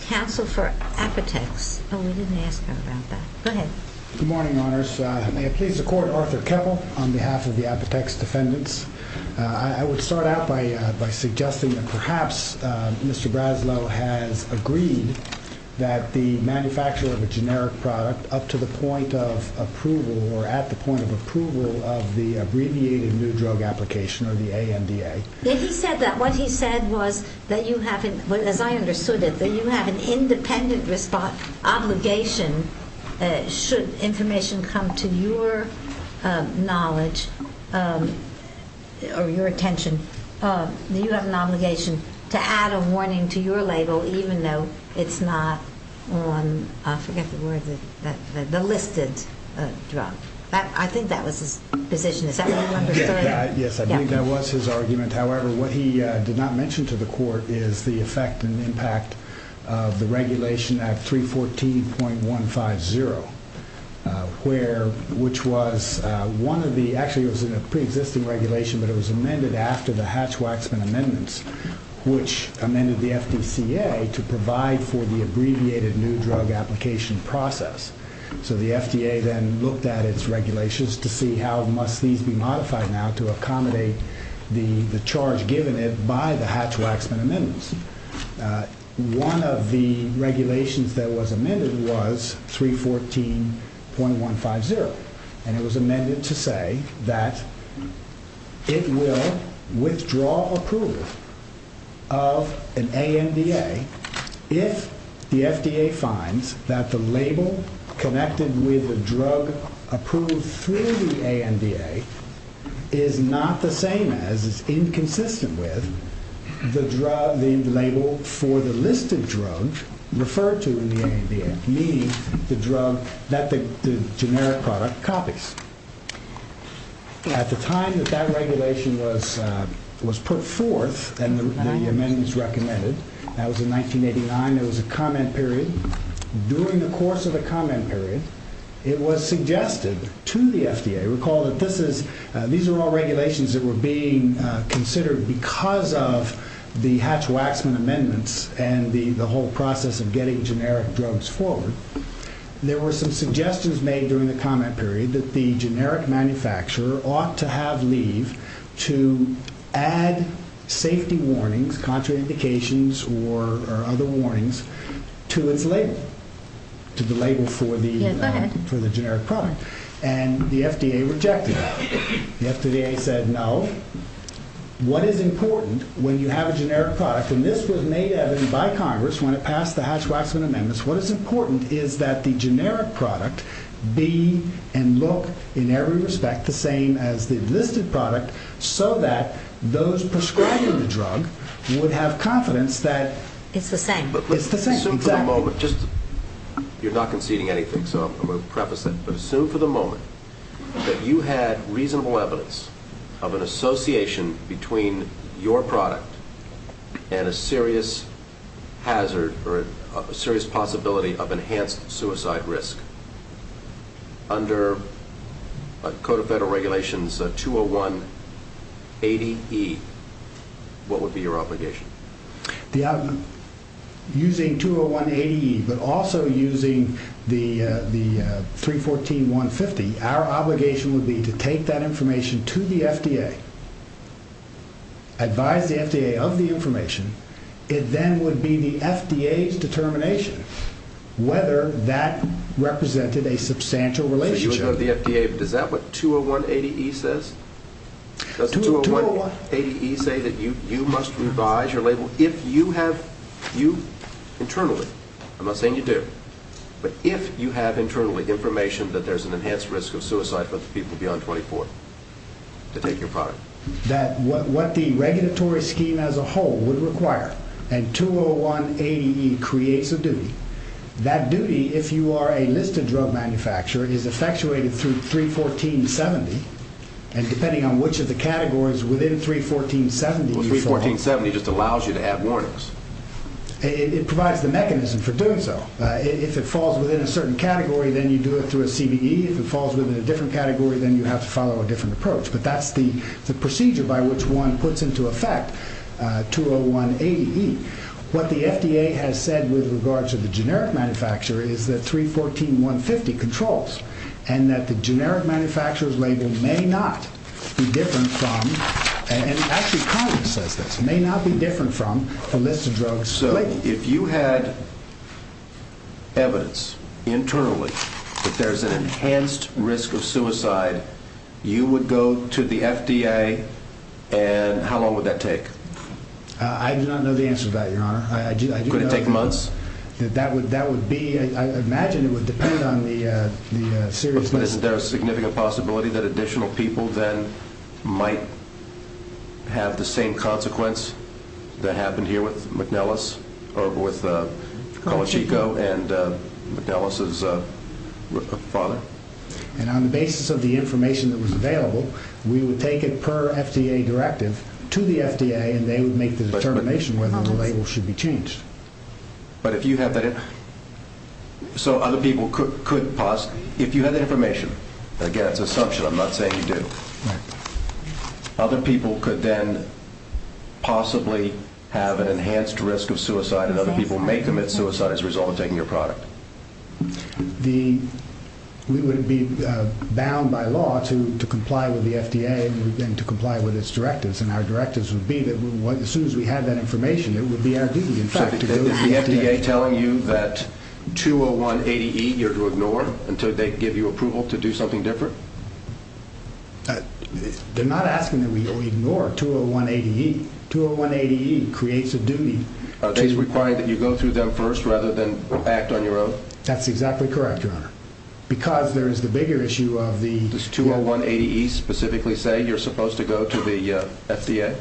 counsel for Apotex. Oh, we didn't ask him about that. Go ahead. Good morning, Your Honors. May it please the Court, Arthur Keppel on behalf of the Apotex defendants. I would start out by suggesting that perhaps Mr. Braslow has agreed that the manufacture of a generic product up to the point of approval or at the point of approval of the abbreviated new drug application or the AMDA. He said that. What he said was that you have, as I understood it, that you have an independent obligation should information come to your knowledge or your attention, you have an obligation to add a warning to your label even though it's not on, I forget the word, the listed drug. I think that was his decision. Yes, I think that was his argument. However, what he did not mention to the Court is the effect and the impact of the Regulation Act 314.150, which was one of the, actually it was a pre-existing regulation, but it was amended after the Hatch-Waxman Amendments, which amended the FDCA to provide for the abbreviated new drug application process. So the FDA then looked at its regulations to see how must these be modified now to accommodate the charge given it by the Hatch-Waxman Amendments. One of the regulations that was amended was 314.150, and it was amended to say that it will withdraw approval of an ANDA if the FDA finds that the label connected with the drug approved through the ANDA is not the same as, is inconsistent with, the label for the listed drug referred to in the ANDA, needs the drug that the generic product copies. At the time that that regulation was put forth and the amendments recommended, that was in 1989, it was a comment period. During the course of the comment period, it was suggested to the FDA, recall that these were all regulations that were being considered because of the Hatch-Waxman Amendments and the whole process of getting generic drugs forward. There were some suggestions made during the comment period that the generic manufacturer ought to have leave to add safety warnings, contraindications, or other warnings to his label, to the label for the generic product. And the FDA rejected that. The FDA said, no. What is important when you have a generic product? And this was made evident by Congress when it passed the Hatch-Waxman Amendments. What is important is that the generic product be and look in every respect the same as the listed product so that those prescribing the drug would have confidence that it's the same. Assume for the moment, just, you're not conceding anything, so I'm going to preface that. Assume for the moment that you had reasonable evidence of an association between your product and a serious hazard or a serious possibility of enhanced suicide risk. Under Code of Federal Regulations 201-80E, what would be your obligation? Using 201-80E, but also using the 314-150, our obligation would be to take that information to the FDA, advise the FDA of the information. It then would be the FDA's determination whether that represented a substantial relationship. Does that what 201-80E says? Does 201-80E say that you must revise your label if you have, you internally, I'm not saying you do, but if you have internally information that there's an enhanced risk of suicide, those people beyond 24, to take your product? That what the regulatory scheme as a whole would require, and 201-80E creates a duty. That duty, if you are a listed drug manufacturer, is effectuated through 314-70, and depending on which of the categories within 314-70. Well, 314-70 just allows you to have warnings. It provides the mechanism for doing so. If it falls within a certain category, then you do it through a CDE. If it falls within a different category, then you have to follow a different approach. But that's the procedure by which one puts into effect 201-80E. What the FDA has said with regards to the generic manufacturer is that 314-150 controls, and that the generic manufacturer's label may not be different from, and actually Condon says this, may not be different from a listed drug's label. So if you had evidence internally that there's an enhanced risk of suicide, you would go to the FDA, and how long would that take? I do not know the answer to that, Your Honor. Could it take months? That would be, I imagine it would depend on the serious risk. But isn't there a significant possibility that additional people then might have the same consequence that happened here with McNellis, or with Colachico and McNellis' father? And on the basis of the information that was available, we would take it per FDA directive to the FDA, and they would make the determination whether or not the label should be changed. But if you have the information, again, it's an assumption. I'm not saying you do. Other people could then possibly have an enhanced risk of suicide, and other people may commit suicide as a result of taking your product. We would be bound by law to comply with the FDA and to comply with its directives, and our directives would be that as soon as we have that information, it would be as easy. So is the FDA telling you that 201AE you're to ignore until they give you approval to do something different? They're not asking you to ignore 201AE. 201AE creates a duty. Are they requiring that you go through them first rather than act on your own? That's exactly correct, Your Honor. Because there is the bigger issue of the... Does 201AE specifically say you're supposed to go to the FDA?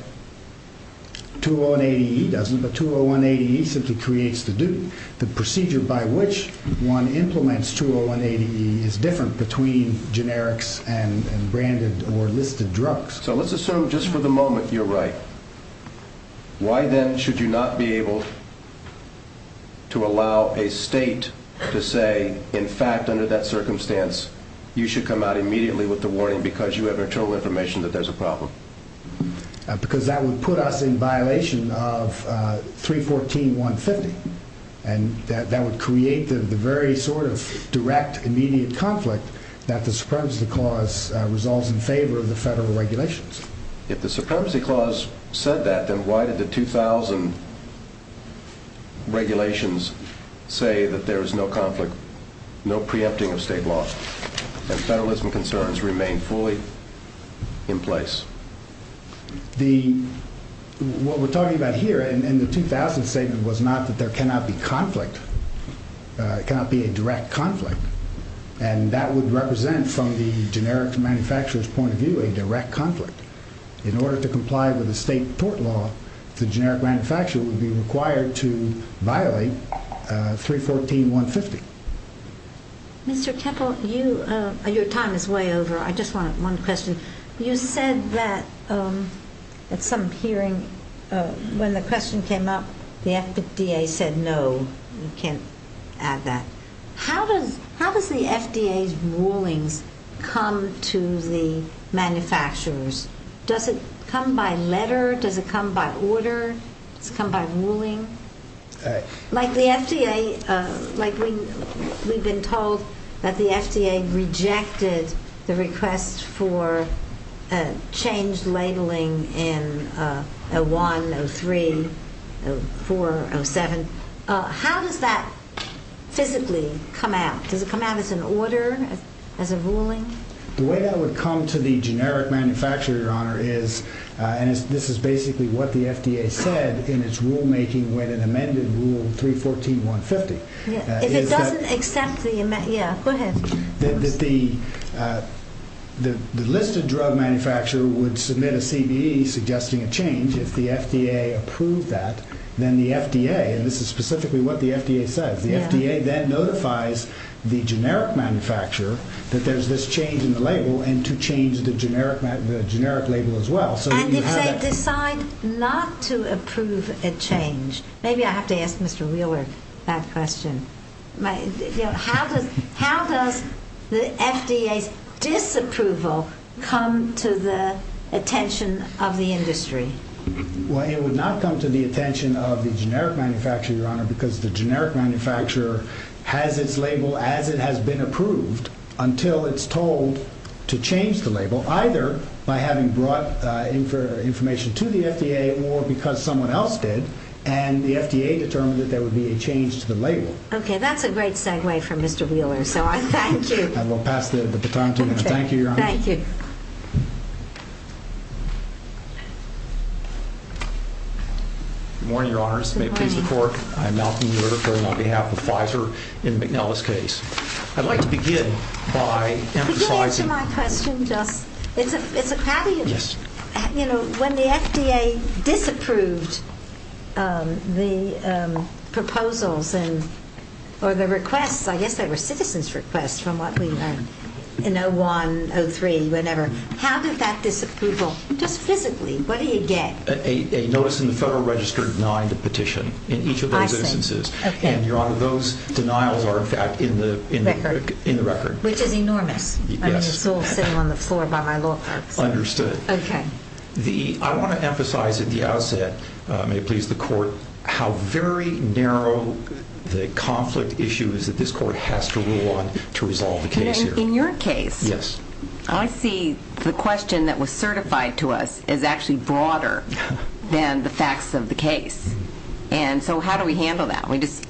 201AE doesn't, but 201AE simply creates the duty. The procedure by which one implements 201AE is different between generics and branded or listed drugs. So let's assume just for the moment you're right. Why then should you not be able to allow a state to say, in fact, under that circumstance, you should come out immediately with the warning because you have actual information that there's a problem? Because that would put us in violation of 314.150, and that would create the very sort of direct immediate conflict that the Supremacy Clause resolves in favor of the federal regulations. If the Supremacy Clause said that, then why did the 2000 regulations say that there is no conflict, no preempting of state law, and federalism concerns remain fully in place? What we're talking about here in the 2000 statement was not that there cannot be conflict. It cannot be a direct conflict, and that would represent from the generic manufacturer's point of view a direct conflict. In order to comply with the state tort law, the generic manufacturer would be required to violate 314.150. Mr. Kettle, your time is way over. I just want one question. You said that at some hearing when the question came up, the FDA said no, you can't add that. How does the FDA's ruling come to the manufacturers? Does it come by letter? Does it come by order? Does it come by ruling? Like we've been told that the FDA rejected the request for a change labeling in 01, 03, 04, 07. How does that physically come out? Does it come out as an order, as a ruling? The way that it would come to the generic manufacturer, Your Honor, is this is basically what the FDA said in its rulemaking when it amended Rule 314.150. If it doesn't accept the amendment, yeah, go ahead. The listed drug manufacturer would submit a CDE suggesting a change. If the FDA approved that, then the FDA, and this is specifically what the FDA said, the FDA then notifies the generic manufacturer that there's this change in the label and to change the generic label as well. And if they decide not to approve a change, maybe I have to ask Mr. Wheeler that question, how does the FDA's disapproval come to the attention of the industry? Well, it would not come to the attention of the generic manufacturer, Your Honor, because the generic manufacturer has its label as it has been approved until it's told to change the label, either by having brought information to the FDA or because someone else did, and the FDA determined that there would be a change to the label. Okay, that's a great segue from Mr. Wheeler, so I thank you. And we'll pass the time to him. Thank you, Your Honor. Thank you. Good morning, Your Honor. Mr. McCliffe, the court. I'm Malcolm Newers, going on behalf of Pfizer in the McNellis case. I'd like to begin by emphasizing... To begin answering my question, though, it's a caveat. Yes. You know, when the FDA disapproves the proposals or the requests, I guess they were citizens' requests, from what we learned in 01, 03, whenever. How did that disapproval... Specifically, what do you get? A notice in the Federal Register denying the petition in each of those instances. I see, I see. And, Your Honor, those denials are, in fact, in the record. In the record. Which is enormous. Yes. And you're still sitting on the floor by my law firm. Understood. Okay. I want to emphasize, if you have said, may it please the court, how very narrow the conflict issue is that this court has to rule on to resolve the case here. In your case... Yes. I see the question that was certified to us as actually broader than the facts of the case. And so how do we handle that? We just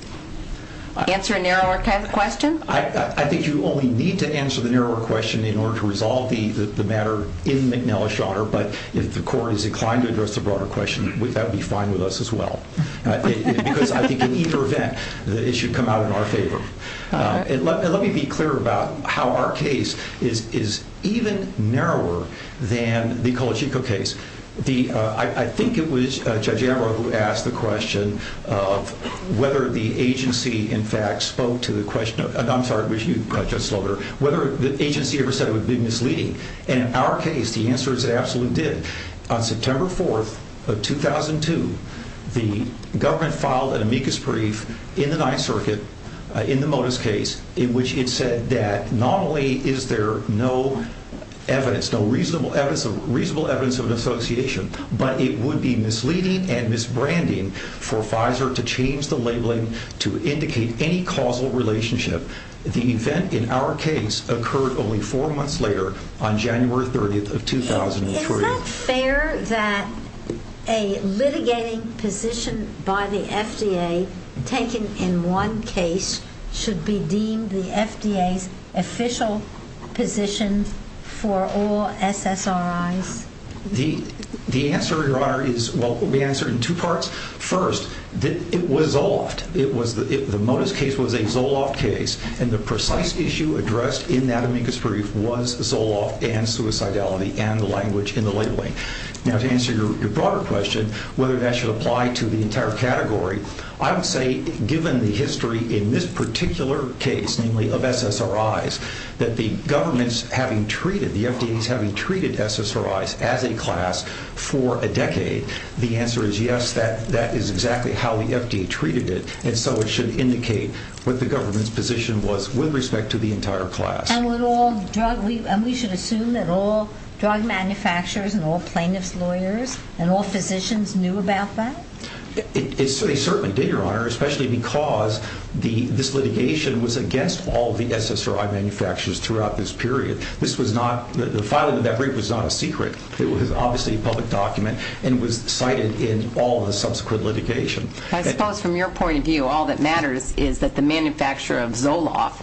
answer a narrower kind of question? I think you only need to answer the narrower question in order to resolve the matter in McNellis, Your Honor. But if the court is inclined to address the broader question, would that be fine with us as well? Because I think in either event, it should come out in our favor. And let me be clear about how our case is even narrower than the Colachico case. I think it was Judge Amaro who asked the question of whether the agency, in fact, spoke to the question... I'm sorry, I wish you'd pressed that slower. Whether the agency ever said it would be misleading. In our case, the answer is it absolutely did. On September 4th of 2002, the government filed an amicus brief in the Ninth Circuit in the Motus case in which it said that not only is there no evidence, no reasonable evidence of an association, but it would be misleading and misbranding for Pfizer to change the labeling to indicate any causal relationship. The event in our case occurred only four months later, on January 30th of 2003. Is it fair that a litigating position by the FDA taken in one case should be deemed the FDA's official position for all SSRIs? The answer there is... Well, the answer in two parts. First, it was Zoloft. The Motus case was a Zoloft case, and the precise issue addressed in that amicus brief was Zoloft and suicidality and the language in the labeling. Now, to answer your broader question, whether that should apply to the entire category, I would say, given the history in this particular case, namely of SSRIs, that the FDA's having treated SSRIs as a class for a decade, the answer is yes, that is exactly how the FDA treated it, and so it should indicate what the government's position was with respect to the entire class. And we should assume that all drug manufacturers and all plaintiffs' lawyers and all physicians knew about that? It certainly did, Your Honor, especially because this litigation was against all the SSRI manufacturers throughout this period. The filing of that brief was not a secret. It was obviously a public document and was cited in all the subsequent litigation. I suppose from your point of view, all that matters is that the manufacturer of Zoloft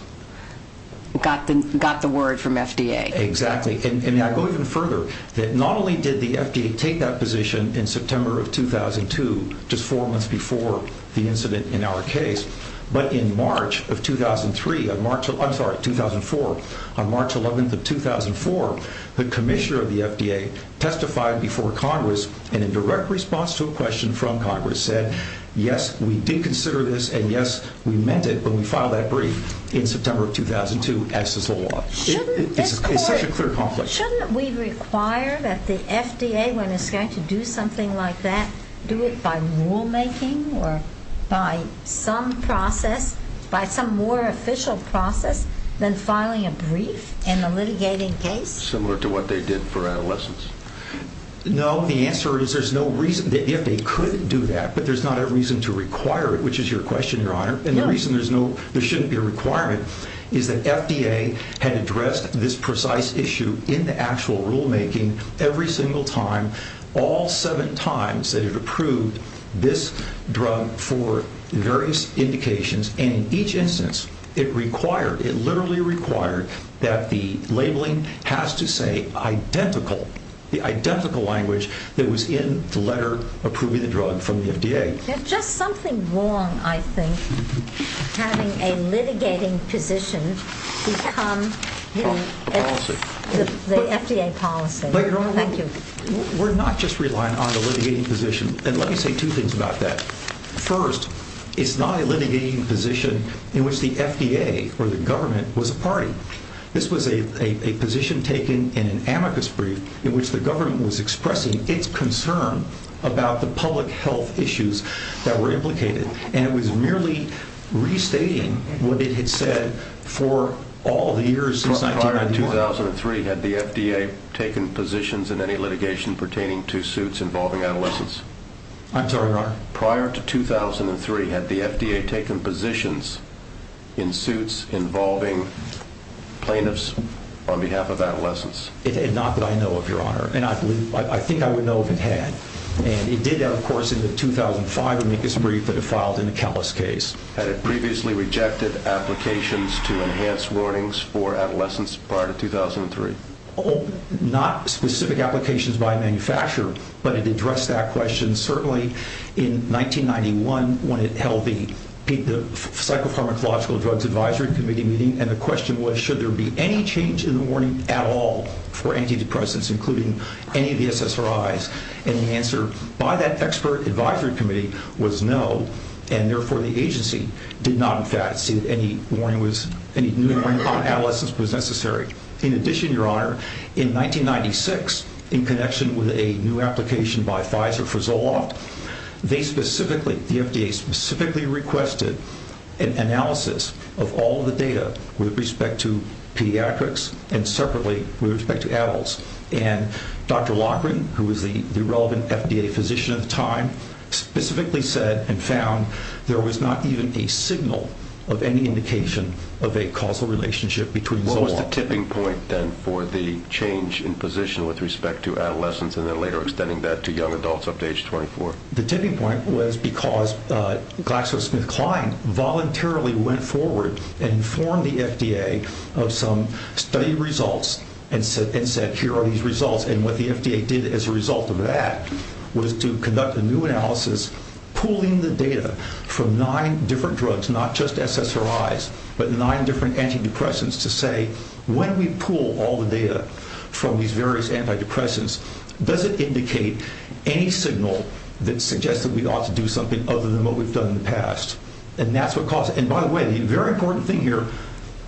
got the word from FDA. Exactly, and I'll go even further. Not only did the FDA take that position in September of 2002, just four months before the incident in our case, but in March of 2003, I'm sorry, 2004. On March 11th of 2004, the commissioner of the FDA testified before Congress and in direct response to a question from Congress said, yes, we did consider this and, yes, we meant it when we filed that brief in September of 2002 as to Zoloft. It's such a clear conflict. Shouldn't we require that the FDA, when it's going to do something like that, do it by rulemaking or by some process, by some more official process than filing a brief in a litigating case? Similar to what they did for adolescents. No, the answer is there's no reason the FDA couldn't do that, but there's not a reason to require it, which is your question, Your Honor, and the reason there shouldn't be a requirement is that FDA had addressed this precise issue in the actual rulemaking every single time, all seven times that it approved this drug for various indications, and in each instance it required, it literally required, that the labeling has to say identical, the identical language that was in the letter approving the drug from the FDA. There's just something wrong, I think, having a litigating position become the FDA policy. Thank you. We're not just relying on the litigating position, and let me say two things about that. First, it's not a litigating position in which the FDA or the government was a party. This was a position taken in an amicus brief in which the government was expressing its concern about the public health issues that were implicated, and it was merely restating what it had said for all the years since 1991. Prior to 2003, had the FDA taken positions I'm sorry, Your Honor? Prior to 2003, had the FDA taken positions in suits involving plaintiffs on behalf of adolescents? Not that I know of, Your Honor, and I think I would know if it had, and it did that, of course, in the 2005 amicus brief that it filed in the Callis case. Had it previously rejected applications to enhance warnings for adolescents prior to 2003? Not specific applications by a manufacturer, but it addressed that question. Certainly, in 1991, when it held the Psychopharmacological Drugs Advisory Committee meeting, and the question was, should there be any change in the warning at all for antidepressants, including any of the SSRIs? And the answer by that expert advisory committee was no, and therefore the agency did not, in fact, see if any new warning on adolescents was necessary. In addition, Your Honor, in 1996, in connection with a new application by Pfizer for Zoloft, they specifically, the FDA specifically, requested an analysis of all the data with respect to pediatrics and separately with respect to adults, and Dr. Loughran, who was the relevant FDA physician at the time, specifically said and found there was not even a signal of any indication of a causal relationship between Zoloft... What was the tipping point, then, for the change in position with respect to adolescents and then later extending that to young adults up to age 24? The tipping point was because GlaxoSmithKline voluntarily went forward and informed the FDA of some study results and said, here are these results, and what the FDA did as a result of that was to conduct a new analysis, pooling the data from nine different drugs, not just SSRIs, but nine different antidepressants, to say, when we pool all the data from these various antidepressants, does it indicate any signal that suggests that we ought to do something other than what we've done in the past? And that's what caused it. And by the way, a very important thing here,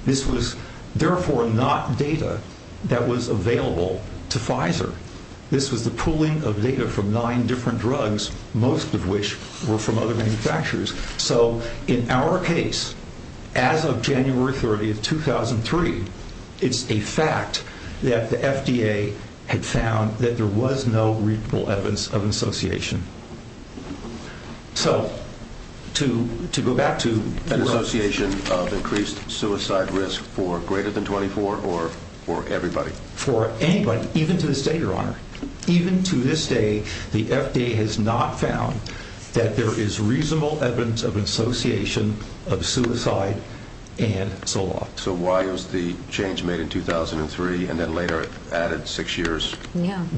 this was therefore not data that was available to Pfizer. This was the pooling of data from nine different drugs, most of which were from other manufacturers. So in our case, as of January 30, 2003, it's a fact that the FDA had found that there was no reasonable evidence of association. So to go back to... Association of increased suicide risk for greater than 24 or for everybody? For anybody, even to this day, Your Honor. Even to this day, the FDA has not found that there is reasonable evidence of association of suicide and Zoloft. So why was the change made in 2003 and then later added six years?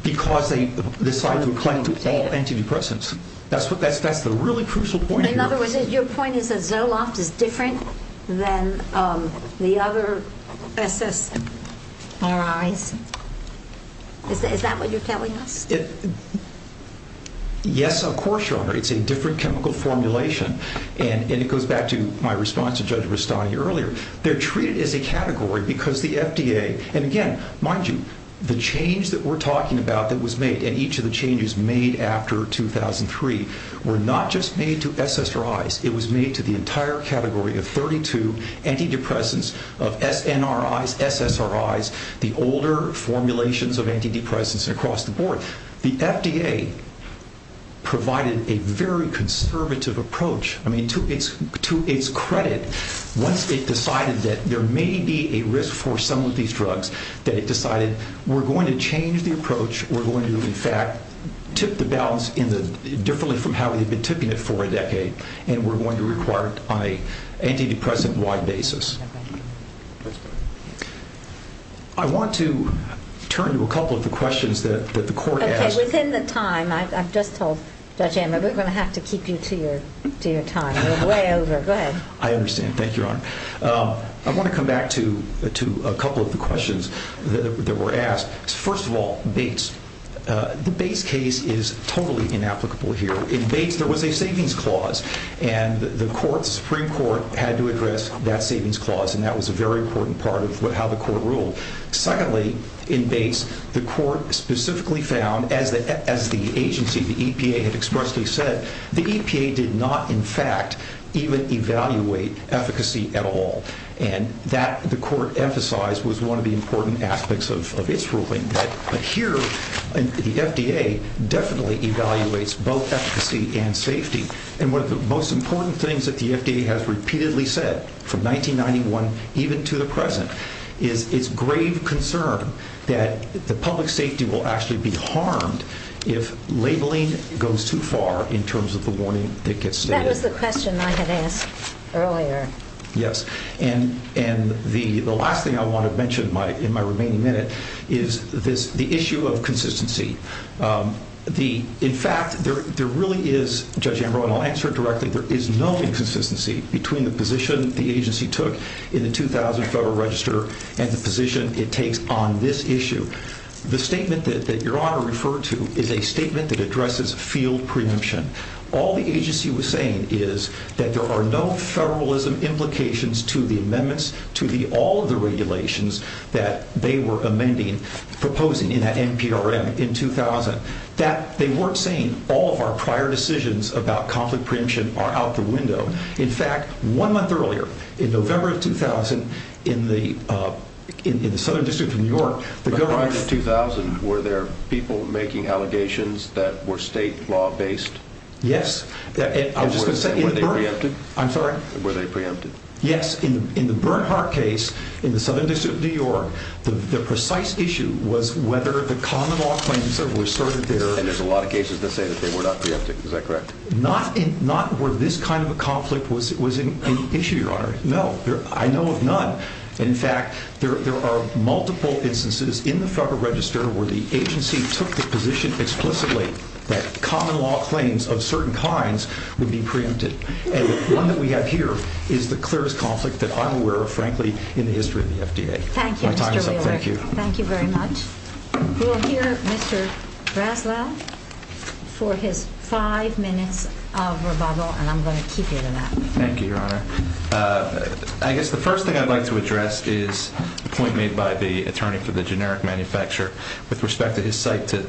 Because they decided to include all antidepressants. That's the really crucial point here. In other words, your point is that Zoloft is different than the other SSRIs? Is that what you're telling us? Yes, of course, Your Honor. It's a different chemical formulation. And it goes back to my response to Judge Rustani earlier. They're treated as a category because the FDA... And again, mind you, the change that we're talking about that was made in each of the changes made after 2003 were not just made to SSRIs. It was made to the entire category of 32 antidepressants, of SNRIs, SSRIs, the older formulations of antidepressants across the board. The FDA provided a very conservative approach. I mean, to its credit, once it decided that there may be a risk for some of these drugs, they decided, we're going to change the approach, we're going to, in fact, tip the balance differently from how we had been tipping it for a decade, and we're going to require it on an antidepressant-wide basis. I want to turn to a couple of the questions that the court asked... Okay, within the time. I've just told Judge Ann that we're going to have to keep you to your time. We're way over. Go ahead. I understand. Thank you, Your Honor. I want to come back to a couple of the questions that were asked. First of all, Bates. The Bates case is totally inapplicable here. In Bates, there was a savings clause, and the Supreme Court had to address that savings clause, and that was a very important part of how the court ruled. Secondly, in Bates, the court specifically found, as the agency, the EPA, had expressly said, the EPA did not, in fact, even evaluate efficacy at all, and that, the court emphasized, was one of the important aspects of its ruling. But here, the FDA definitely evaluates both efficacy and safety, and one of the most important things that the FDA has repeatedly said, from 1991 even to the present, is grave concern that the public safety will actually be harmed if labeling goes too far in terms of the warning that gets made. That's just a question I had asked earlier. Yes. And the last thing I want to mention in my remaining minute is the issue of consistency. In fact, there really is, Judge Ambrose, and I'll answer it directly, but there is no inconsistency between the position the agency took in the 2000 Federal Register and the position it takes on this issue. The statement that Your Honor referred to is a statement that addresses field preemption. All the agency was saying is that there are no federalism implications to the amendments, to all of the regulations that they were amending, proposing in that NPRM in 2000, that they weren't saying all of our prior decisions about conflict preemption are out the window. In fact, one month earlier, in November of 2000, in the Southern District of New York, the government... By the time of 2000, were there people making allegations that were state law-based? Yes. And were they preempted? I'm sorry? Were they preempted? Yes. In the Bernhardt case in the Southern District of New York, the precise issue was whether the common law claims that were asserted there... And there's a lot of cases that say that they were not preempted. Is that correct? Not where this kind of a conflict was an issue, Your Honor. No, I know of none. In fact, there are multiple instances in the Federal Register where the agency took the position explicitly that common law claims of certain kinds would be preempted. And the one that we have here is the clearest conflict that I'm aware of, frankly, in the history of the FDA. Thank you, Mr. Wheeler. Thank you. Thank you very much. We'll hear Mr. Braswell for his five minutes of rebuttal, and I'm going to keep you to that. Thank you, Your Honor. I guess the first thing I'd like to address is the point made by the attorney for the generic manufacturer with respect to his cite to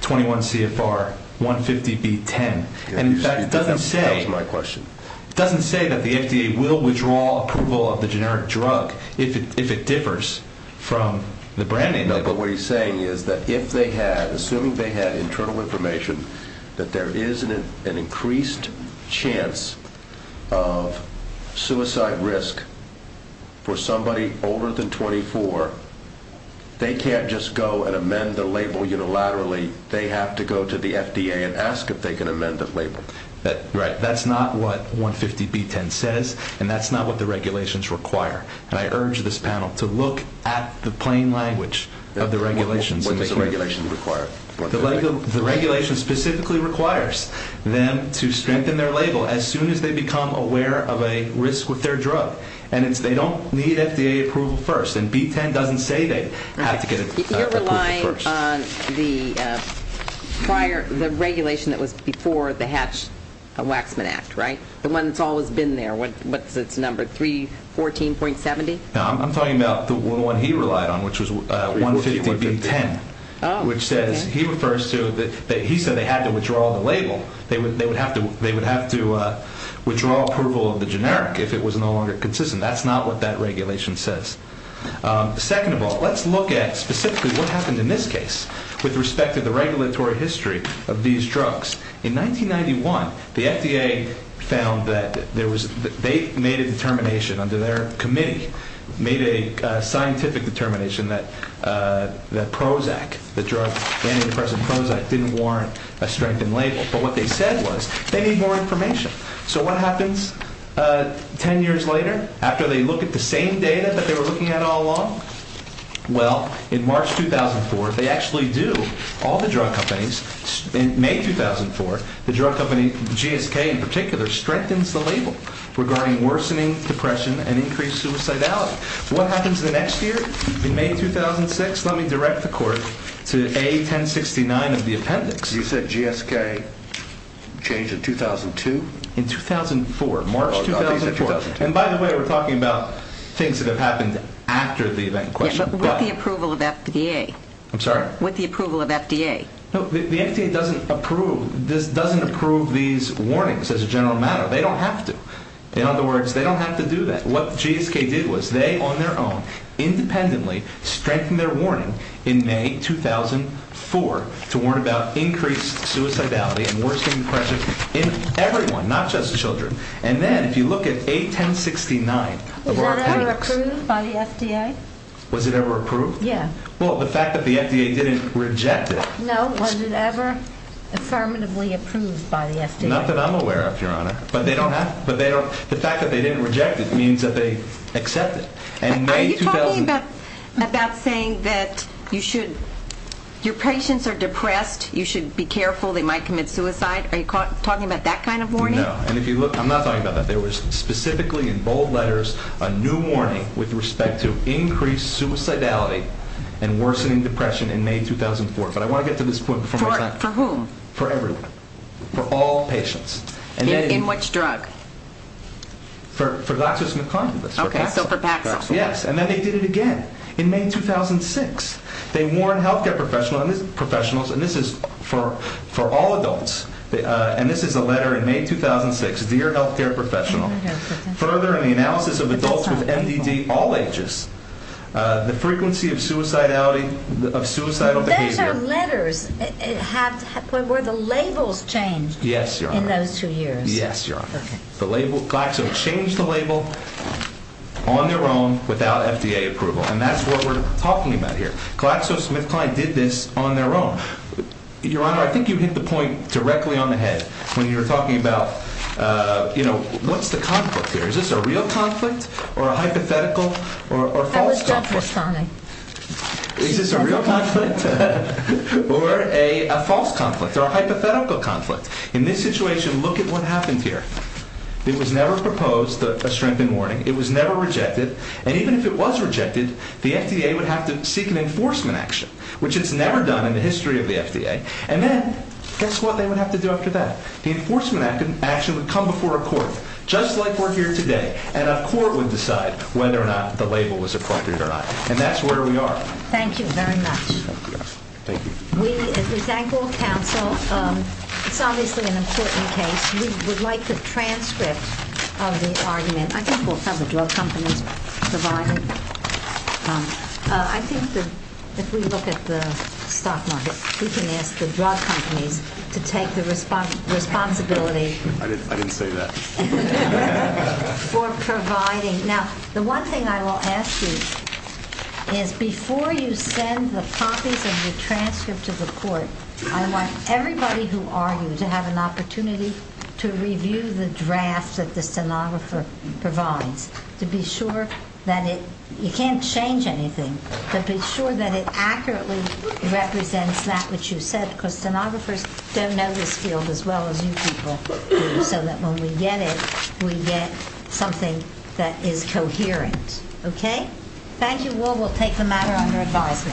21 CFR 150B10. And that doesn't say... That's my question. It doesn't say that the FDA will withdraw approval of the generic drug if it differs from the brand name. No, but what he's saying is that if they had... Assuming they had internal information that there is an increased chance of suicide risk for somebody older than 24, they can't just go and amend the label unilaterally. They have to go to the FDA and ask if they can amend the label. Right. That's not what 150B10 says, and that's not what the regulations require. I urge this panel to look at the plain language of the regulations. What does the regulation require? The regulation specifically requires them to strengthen their label as soon as they become aware of a risk with their drug. And they don't need FDA approval first, and B10 doesn't say they have to get approval first. You're relying on the prior regulation that was before the Hatch-Waxman Act, right? The one that's always been there. What's this number, 314.70? No, I'm talking about the one he relied on, which was 150B10. Oh. He said they had to withdraw the label. They would have to withdraw approval of the generic if it was no longer consistent. That's not what that regulation says. Second of all, let's look at specifically what happened in this case with respect to the regulatory history of these drugs. In 1991, the FDA found that they made a determination under their committee, made a scientific determination that Prozac, the drug standing in the presence of Prozac, didn't warrant a strengthened label. But what they said was they need more information. So what happens 10 years later after they look at the same data that they were looking at all along? Well, in March 2004, they actually do. All the drug companies, in May 2004, the drug company GSK in particular strengthens the label regarding worsening, depression, and increased suicidality. What happens the next year, in May 2006? Let me direct the court to A1069 of the appendix. You said GSK changed in 2002? In 2004, March 2004. And by the way, we're talking about things that have happened after the event in question. Yeah, but with the approval of FDA. I'm sorry? With the approval of FDA. No, the FDA doesn't approve these warnings as a general matter. They don't have to. In other words, they don't have to do that. What GSK did was they, on their own, independently, strengthened their warning in May 2004 to warn about increased suicidality and worsening depression in everyone, not just the children. And then if you look at A1069 of our appendix. Was that ever approved by the FDA? Was it ever approved? Yeah. Well, the fact that the FDA didn't reject it. No. Was it ever affirmatively approved by the FDA? Not that I'm aware of, Your Honor. But they don't have to. The fact that they didn't reject it means that they accept it. Are you talking about saying that your patients are depressed, you should be careful, they might commit suicide? Are you talking about that kind of warning? No. I'm not talking about that. There was specifically in bold letters a new warning with respect to increased suicidality and worsening depression in May 2004. But I want to get to this point. For whom? For everyone. For all patients. In which drug? For laxatives and condoms. Okay. So for laxatives. Yes. And then they did it again in May 2006. They warned health care professionals, and this is for all adults, and this is a letter in May 2006 to your health care professional. Further, in the analysis of adults with MDD, all ages, the frequency of suicidal behavior. But they have letters. Were the labels changed in those two years? Yes, Your Honor. Yes, Your Honor. Glaxo changed the label on their own without FDA approval, and that's what we're talking about here. GlaxoSmithKline did this on their own. Your Honor, I think you hit the point directly on the head when you were talking about, you know, what's the conflict here? Is this a real conflict or a hypothetical or a false conflict? I would stop you, Charlie. Is this a real conflict or a false conflict or a hypothetical conflict? In this situation, look at what happened here. It was never proposed a strengthened warning. It was never rejected. And even if it was rejected, the FDA would have to seek an enforcement action, which it's never done in the history of the FDA. And then, guess what they would have to do after that? The enforcement action would come before a court, just like we're here today, and a court would decide whether or not the label was appropriate or not. And that's where we are. Thank you very much. Thank you. We at the Sanford Council, obviously in a certain case, we would like to transcript the argument. I think we'll have a glove company provide it. I think if we look at the stock market, we can ask the glove company to take the responsibility. I didn't say that. For providing. Now, the one thing I will ask you is before you send the copies and you transfer to the court, I want everybody who argues to have an opportunity to review the draft that the stenographer provides to be sure that it, you can't change anything, but be sure that it accurately represents that which you said, because stenographers don't know this field as well as you people do, so that when we get it, we get something that is coherent. Okay? Thank you. We'll take the matter under advisory. Thank you.